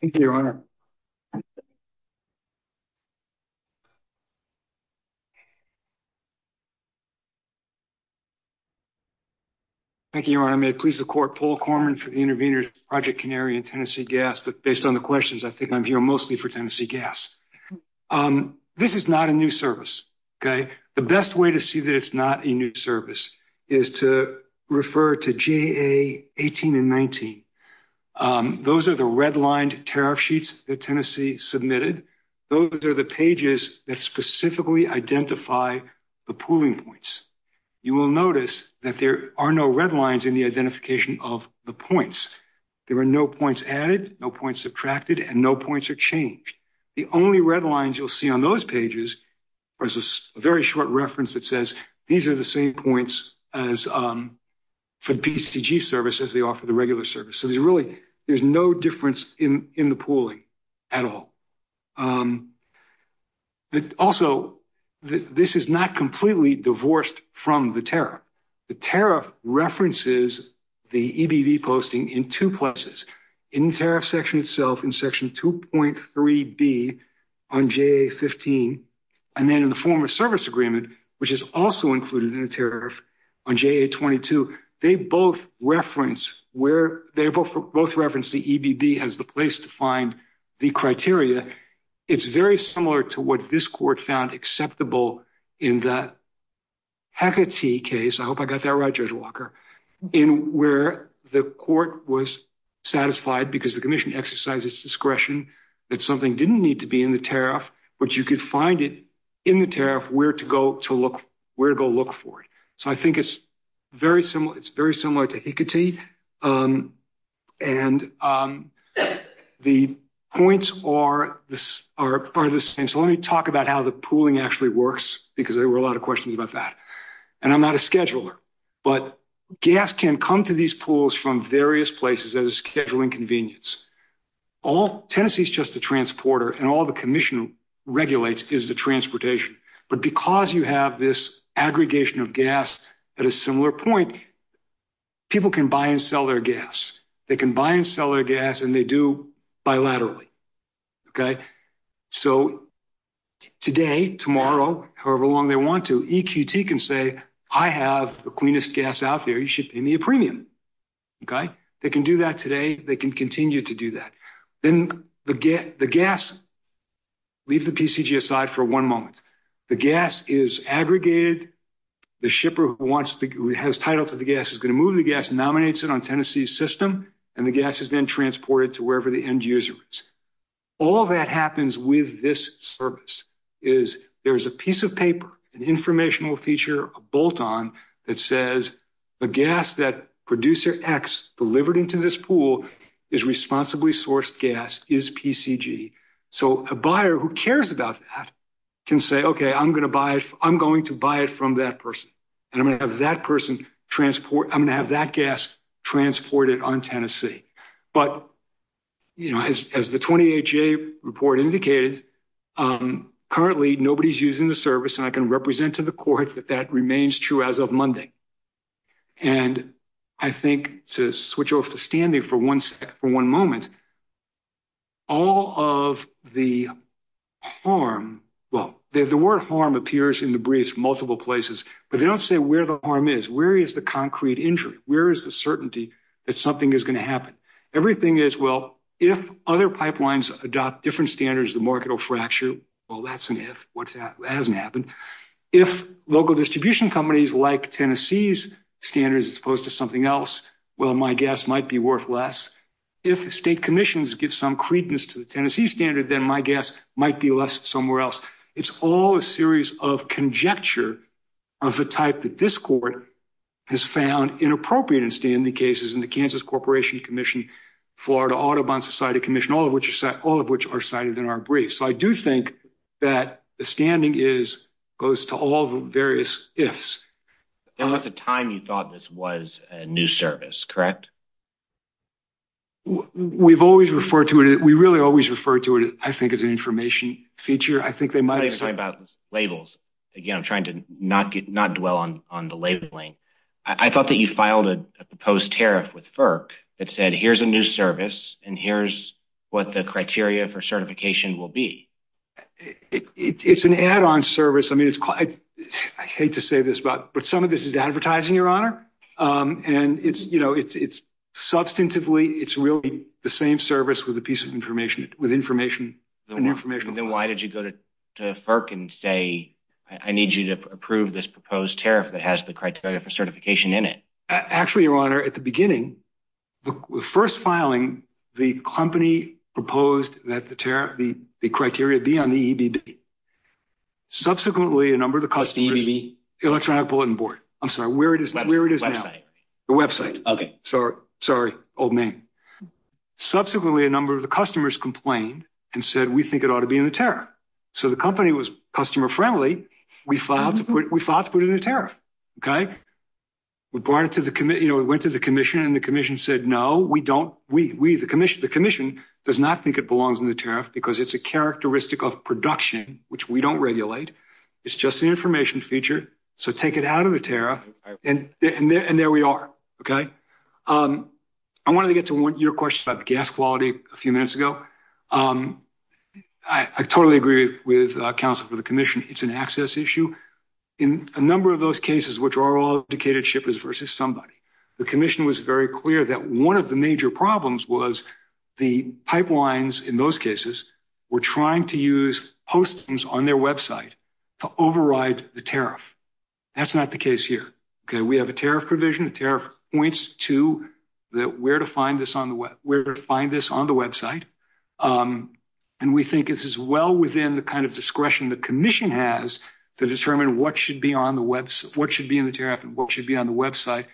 Thank you, your honor. Thank you, your honor. May it please the court, Paul Corman for the intervener's counsel. I'm Paul Corman. I'm the project canary in Tennessee gas. But based on the questions, I think I'm here mostly for Tennessee gas. This is not a new service. Okay. The best way to see that it's not a new service is to refer to GA 18 and 19. Those are the redlined tariff sheets that Tennessee submitted. Those are the pages that specifically identify the pooling points. You will notice that there are no red lines in the identification of the points. There were no points added, no points subtracted, and no points are changed. The only red lines you'll see on those pages versus a very short reference that says, these are the same points as for BCG services, they offer the regular service. So there's really, there's no difference in the pooling at all. But also this is not completely divorced from the tariff. The tariff references the EDV posting in two places in tariff section itself, in section 2.3 B on GA 15. And then in the form of service agreement, which is also included in the tariff on GA 22, they both reference where they both referenced the EDB as the place to find the criteria. It's very similar to what this court found acceptable in that Hacketty case, I hope I got that right, Judge Walker, in where the court was satisfied because the commission exercises discretion that something didn't need to be in the tariff, but you could find it in the tariff where to go to look, where to go look for it. So I think it's very similar, to Hacketty. And the points are, let me talk about how the pooling actually works, because there were a lot of questions about that. And I'm not a scheduler, but gas can come to these pools from various places as scheduling convenience. All Tennessee is just the transporter and all the commission regulates is the transportation. But because you have this aggregation of gas at a similar point, people can buy and sell their gas. They can buy and sell their gas and they do bilaterally. So today, tomorrow, however long they want to, EQT can say, I have the cleanest gas out there, you should pay me a premium. Okay. They can do that today. They can continue to do that. Then the gas, leave the TCG aside for one moment. The gas is aggregated. The shipper who has title to the gas is going to move the gas, nominates it on Tennessee's system, and the gas is then transported to wherever the end user is. All that happens with this service is there's a piece of paper, an informational feature, a bolt-on that says the gas that producer X delivered into this pool is responsibly sourced gas is PCG. So a buyer who cares about that can say, okay, I'm going to buy it. I'm going to buy it from that person. And I'm going to have that person transport, I'm going to have that gas transported on Tennessee. But, you know, as the 20HA report indicated, currently nobody's using the service and I can represent to the court that that remains true as of Monday. And I think to switch off the standing for one moment, all of the harm, well, the word harm appears in the briefs multiple places, but they don't say where the harm is. Where is the concrete injury? Where is the certainty that something is going to happen? Everything is, well, if other hasn't happened, if local distribution companies like Tennessee's standards as opposed to something else, well, my guess might be worth less. If the state commissions give some credence to the Tennessee standard, then my guess might be less somewhere else. It's all a series of conjecture of the type that this court has found inappropriate in standing cases in the Kansas Corporation Commission, Florida Audubon Society Commission, all of which are cited in our brief. So I do think that the standing goes to all the various ifs. And at the time you thought this was a new service, correct? We've always referred to it, we really always refer to it, I think, as an information feature. I think they might have said about labels. Again, I'm trying to not dwell on the labeling. I thought that you filed a proposed tariff with FERC that said here's a new service and here's what the criteria for certification will be. It's an add-on service. I mean, I hate to say this, but some of this is advertising, Your Honor. And it's, you know, it's substantively, it's really the same service with the piece of information, with information. Then why did you go to FERC and say, I need you to approve this proposed tariff that has the criteria for certification in it? Actually, Your Honor, at the beginning, the first filing, the company proposed that the tariff, the criteria be on the EBD. Subsequently, a number of the customers- The EBD? Electronic Bulletin Board. I'm sorry, where it is now? Website. The website. Okay. Sorry, sorry, old name. Subsequently, a number of the customers complained and said, we think it ought to be in the tariff. So the company was customer-friendly. We filed to put it in the tariff, okay? We brought it to the committee, you know, we went to the commission and the commission said, no, we don't, we, the commission does not think it belongs in the tariff because it's a characteristic of production, which we don't regulate. It's just an information feature. So take it out of the tariff and there we are, okay? I wanted to get to your question about gas quality a few minutes ago. I totally agree with counsel for the commission. It's an access issue. In a number of those cases, which are all indicated shippers versus somebody, the commission was very clear that one of the major problems was the pipelines in those cases were trying to use postings on their website to override the tariff. That's not the case here, okay? We have a tariff provision, tariff points to where to find this on the website. And we think it's as well within the kind of discretion the commission has to determine what should be on the website, what should be in the tariff and what should be on the website.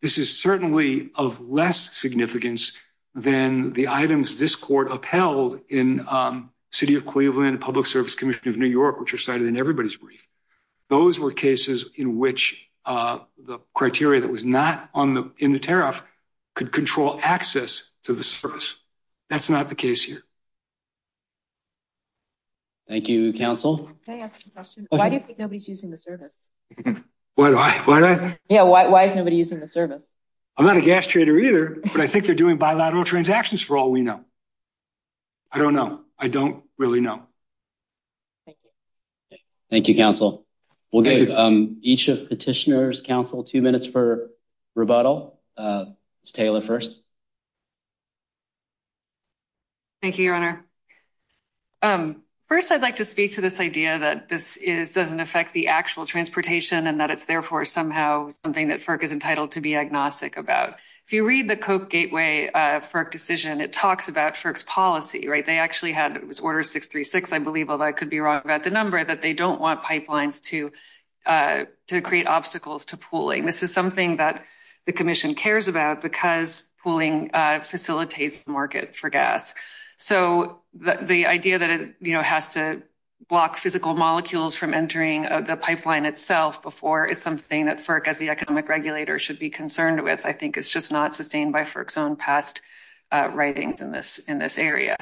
This is certainly of less significance than the items this court upheld in city of Cleveland, public service commission of New York, which are cited in everybody's brief. Those were cases in which the criteria that was not on the, in the tariff could control access to the service. That's not the case here. Thank you, counsel. Can I ask a question? Why do you think nobody's using the service? Why do I, why do I? Yeah. Why is nobody using the service? I'm not a gas trader either, but I think they're doing bilateral transactions for all we know. I don't know. I don't really know. Thank you, counsel. We'll give each of the petitioners counsel two minutes for rebuttal. Taylor first. Thank you, your honor. First, I'd like to speak to this idea that this is doesn't affect the actual transportation and that it's therefore somehow something that FERC is entitled to be agnostic about. If you read the code gateway for a decision, it talks about FERC's policy, right? They actually had, it was order 636. I believe, although I could be wrong about the number that they don't want pipelines to to create obstacles to pooling. This is something that the commission cares about because pooling facilitates the market for gas. So the idea that it has to block physical molecules from entering the pipeline itself before is something that FERC as the economic regulator should be concerned with. I think it's just not sustained by FERC's own past writings in this area.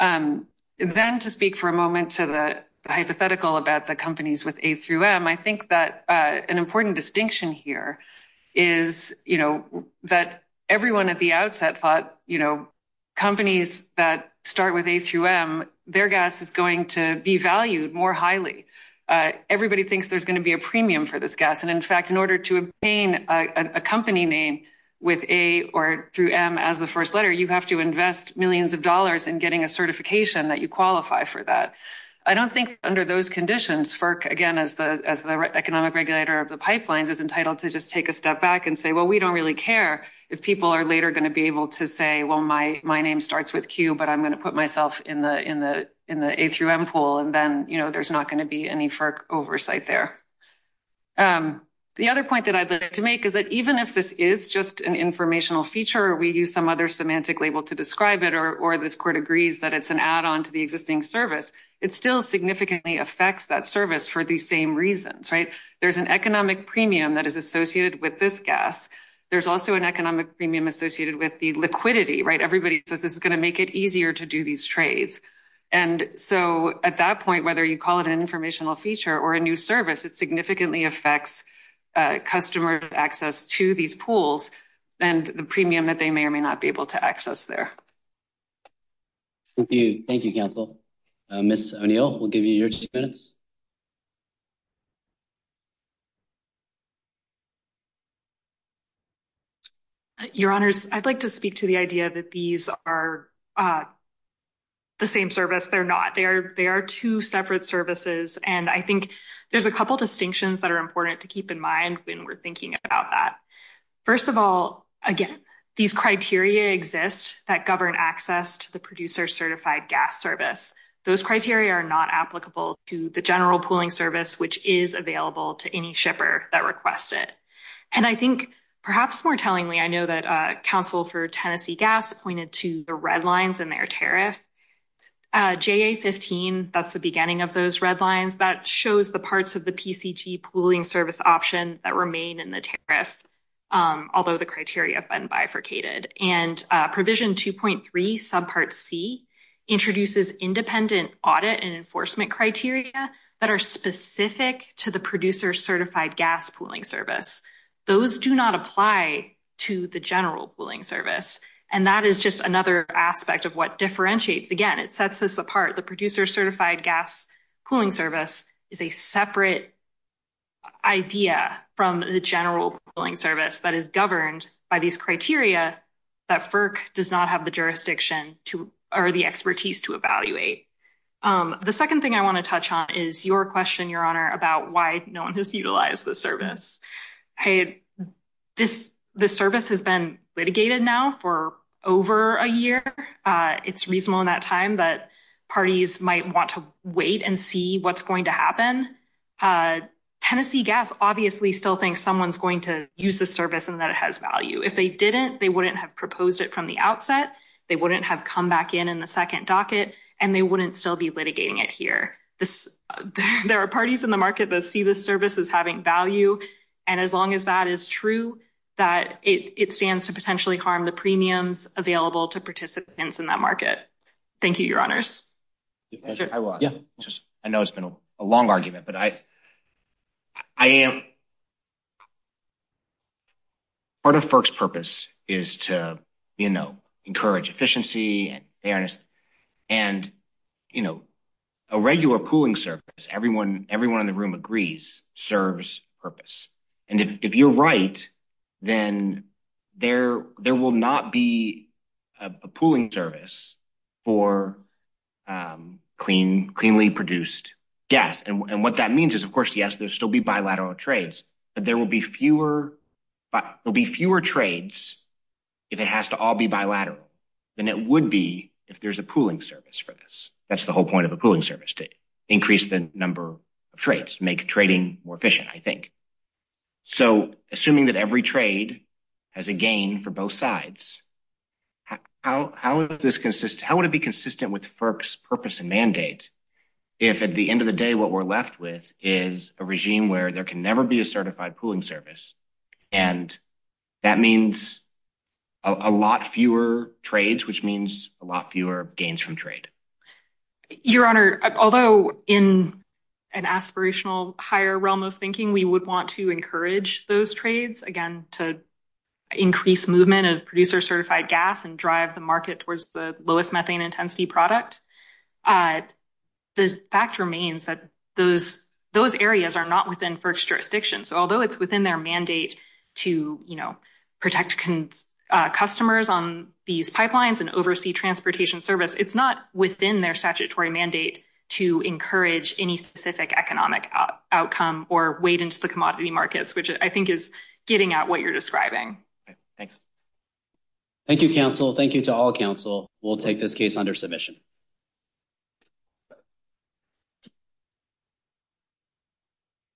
Then to speak for a moment to the hypothetical about the companies with A through M, I think that an important distinction here is that everyone at the outset thought companies that start with A through M, their gas is going to be valued more highly. Everybody thinks there's going to be a premium for this gas. In fact, in order to obtain a company name with A or through M as the first letter, you have to invest millions of dollars in getting a certification that you qualify for that. I don't think under those conditions, FERC, again, as the economic regulator of the pipelines is entitled to just take a step back and say, well, we don't really care if people are later going to be able to say, well, my name starts with Q, but I'm going to put myself in the A through M pool and then there's not going to be any FERC oversight there. The other point that I'd like to make is that even if this is just an informational feature, we use some other label to describe it, or this court agrees that it's an add-on to the existing service, it still significantly affects that service for the same reasons. There's an economic premium that is associated with this gas. There's also an economic premium associated with the liquidity. Everybody says it's going to make it easier to do these trades. And so at that point, whether you call it an informational feature or a new service, it significantly affects customer access to these pools and the premium that they may or may not be able to access there. Thank you, counsel. Ms. O'Neill, we'll give you your two minutes. Your honors, I'd like to speak to the idea that these are the same service. They're not. They are two separate services. And I think there's a couple of distinctions that are important to keep in mind when we're thinking about that. First of all, again, these criteria exist that govern access to the producer-certified gas service. Those criteria are not applicable to the general pooling service, which is available to any shipper that requests it. And I think perhaps more tellingly, I know that counsel for Tennessee Gas pointed to the red lines in their tariff. JA-15, that's the beginning of those red lines that shows the parts of the PCT pooling service options that remain in the tariff, although the criteria have been bifurcated. And provision 2.3 subpart C introduces independent audit and enforcement criteria that are specific to the producer-certified gas pooling service. Those do not apply to the general pooling service. And that is just another aspect of what differentiates. Again, it sets this apart. The producer-certified gas pooling service is a separate idea from the general pooling service that is governed by these criteria that FERC does not have the jurisdiction or the expertise to evaluate. The second thing I want to touch on is your question, your honor, about why no one has utilized the service. The service has been litigated now for over a year. It's reasonable in that time that parties might want to wait and see what's going to happen. Tennessee Gas obviously still thinks someone's going to use the service and that it has value. If they didn't, they wouldn't have proposed it from the outset, they wouldn't have come back in in the second docket, and they wouldn't still be litigating it here. There are parties in the market that see this service as having value, and as long as that is true, that it stands to potentially harm the premiums available to participants in that market. Thank you, your honors. I know it's been a long argument, but part of FERC's purpose is to encourage efficiency fairness. A regular pooling service, everyone in the room agrees, serves purpose. If you're right, then there will not be a pooling service for cleanly produced gas. What that means is, of course, yes, there will still be bilateral trades, but there will be fewer trades if it has to all be bilateral than it would be if there's a pooling service for this. That's the whole point of a pooling service, to increase the number of trades, make trading more efficient, I think. Assuming that every trade has a gain for both sides, how would it be consistent with FERC's purpose and mandate if at the end of the day, what we're left with is a regime where there can never be a certified pooling service. That means a lot fewer trades, which means a lot fewer gains from trade. Your honor, although in an aspirational higher realm of thinking, we would want to encourage those trades, again, to increase movement of producer certified gas and drive the market towards the lowest methane intensity product. The fact remains that those areas are not within FERC's jurisdiction. Although it's within their mandate to protect customers on these pipelines and oversee transportation service, it's not within their statutory mandate to encourage any specific economic outcome or wade into the commodity markets, which I think is getting at what you're describing. Thanks. Thank you, counsel. Thank you to all counsel. We'll take this case under submission.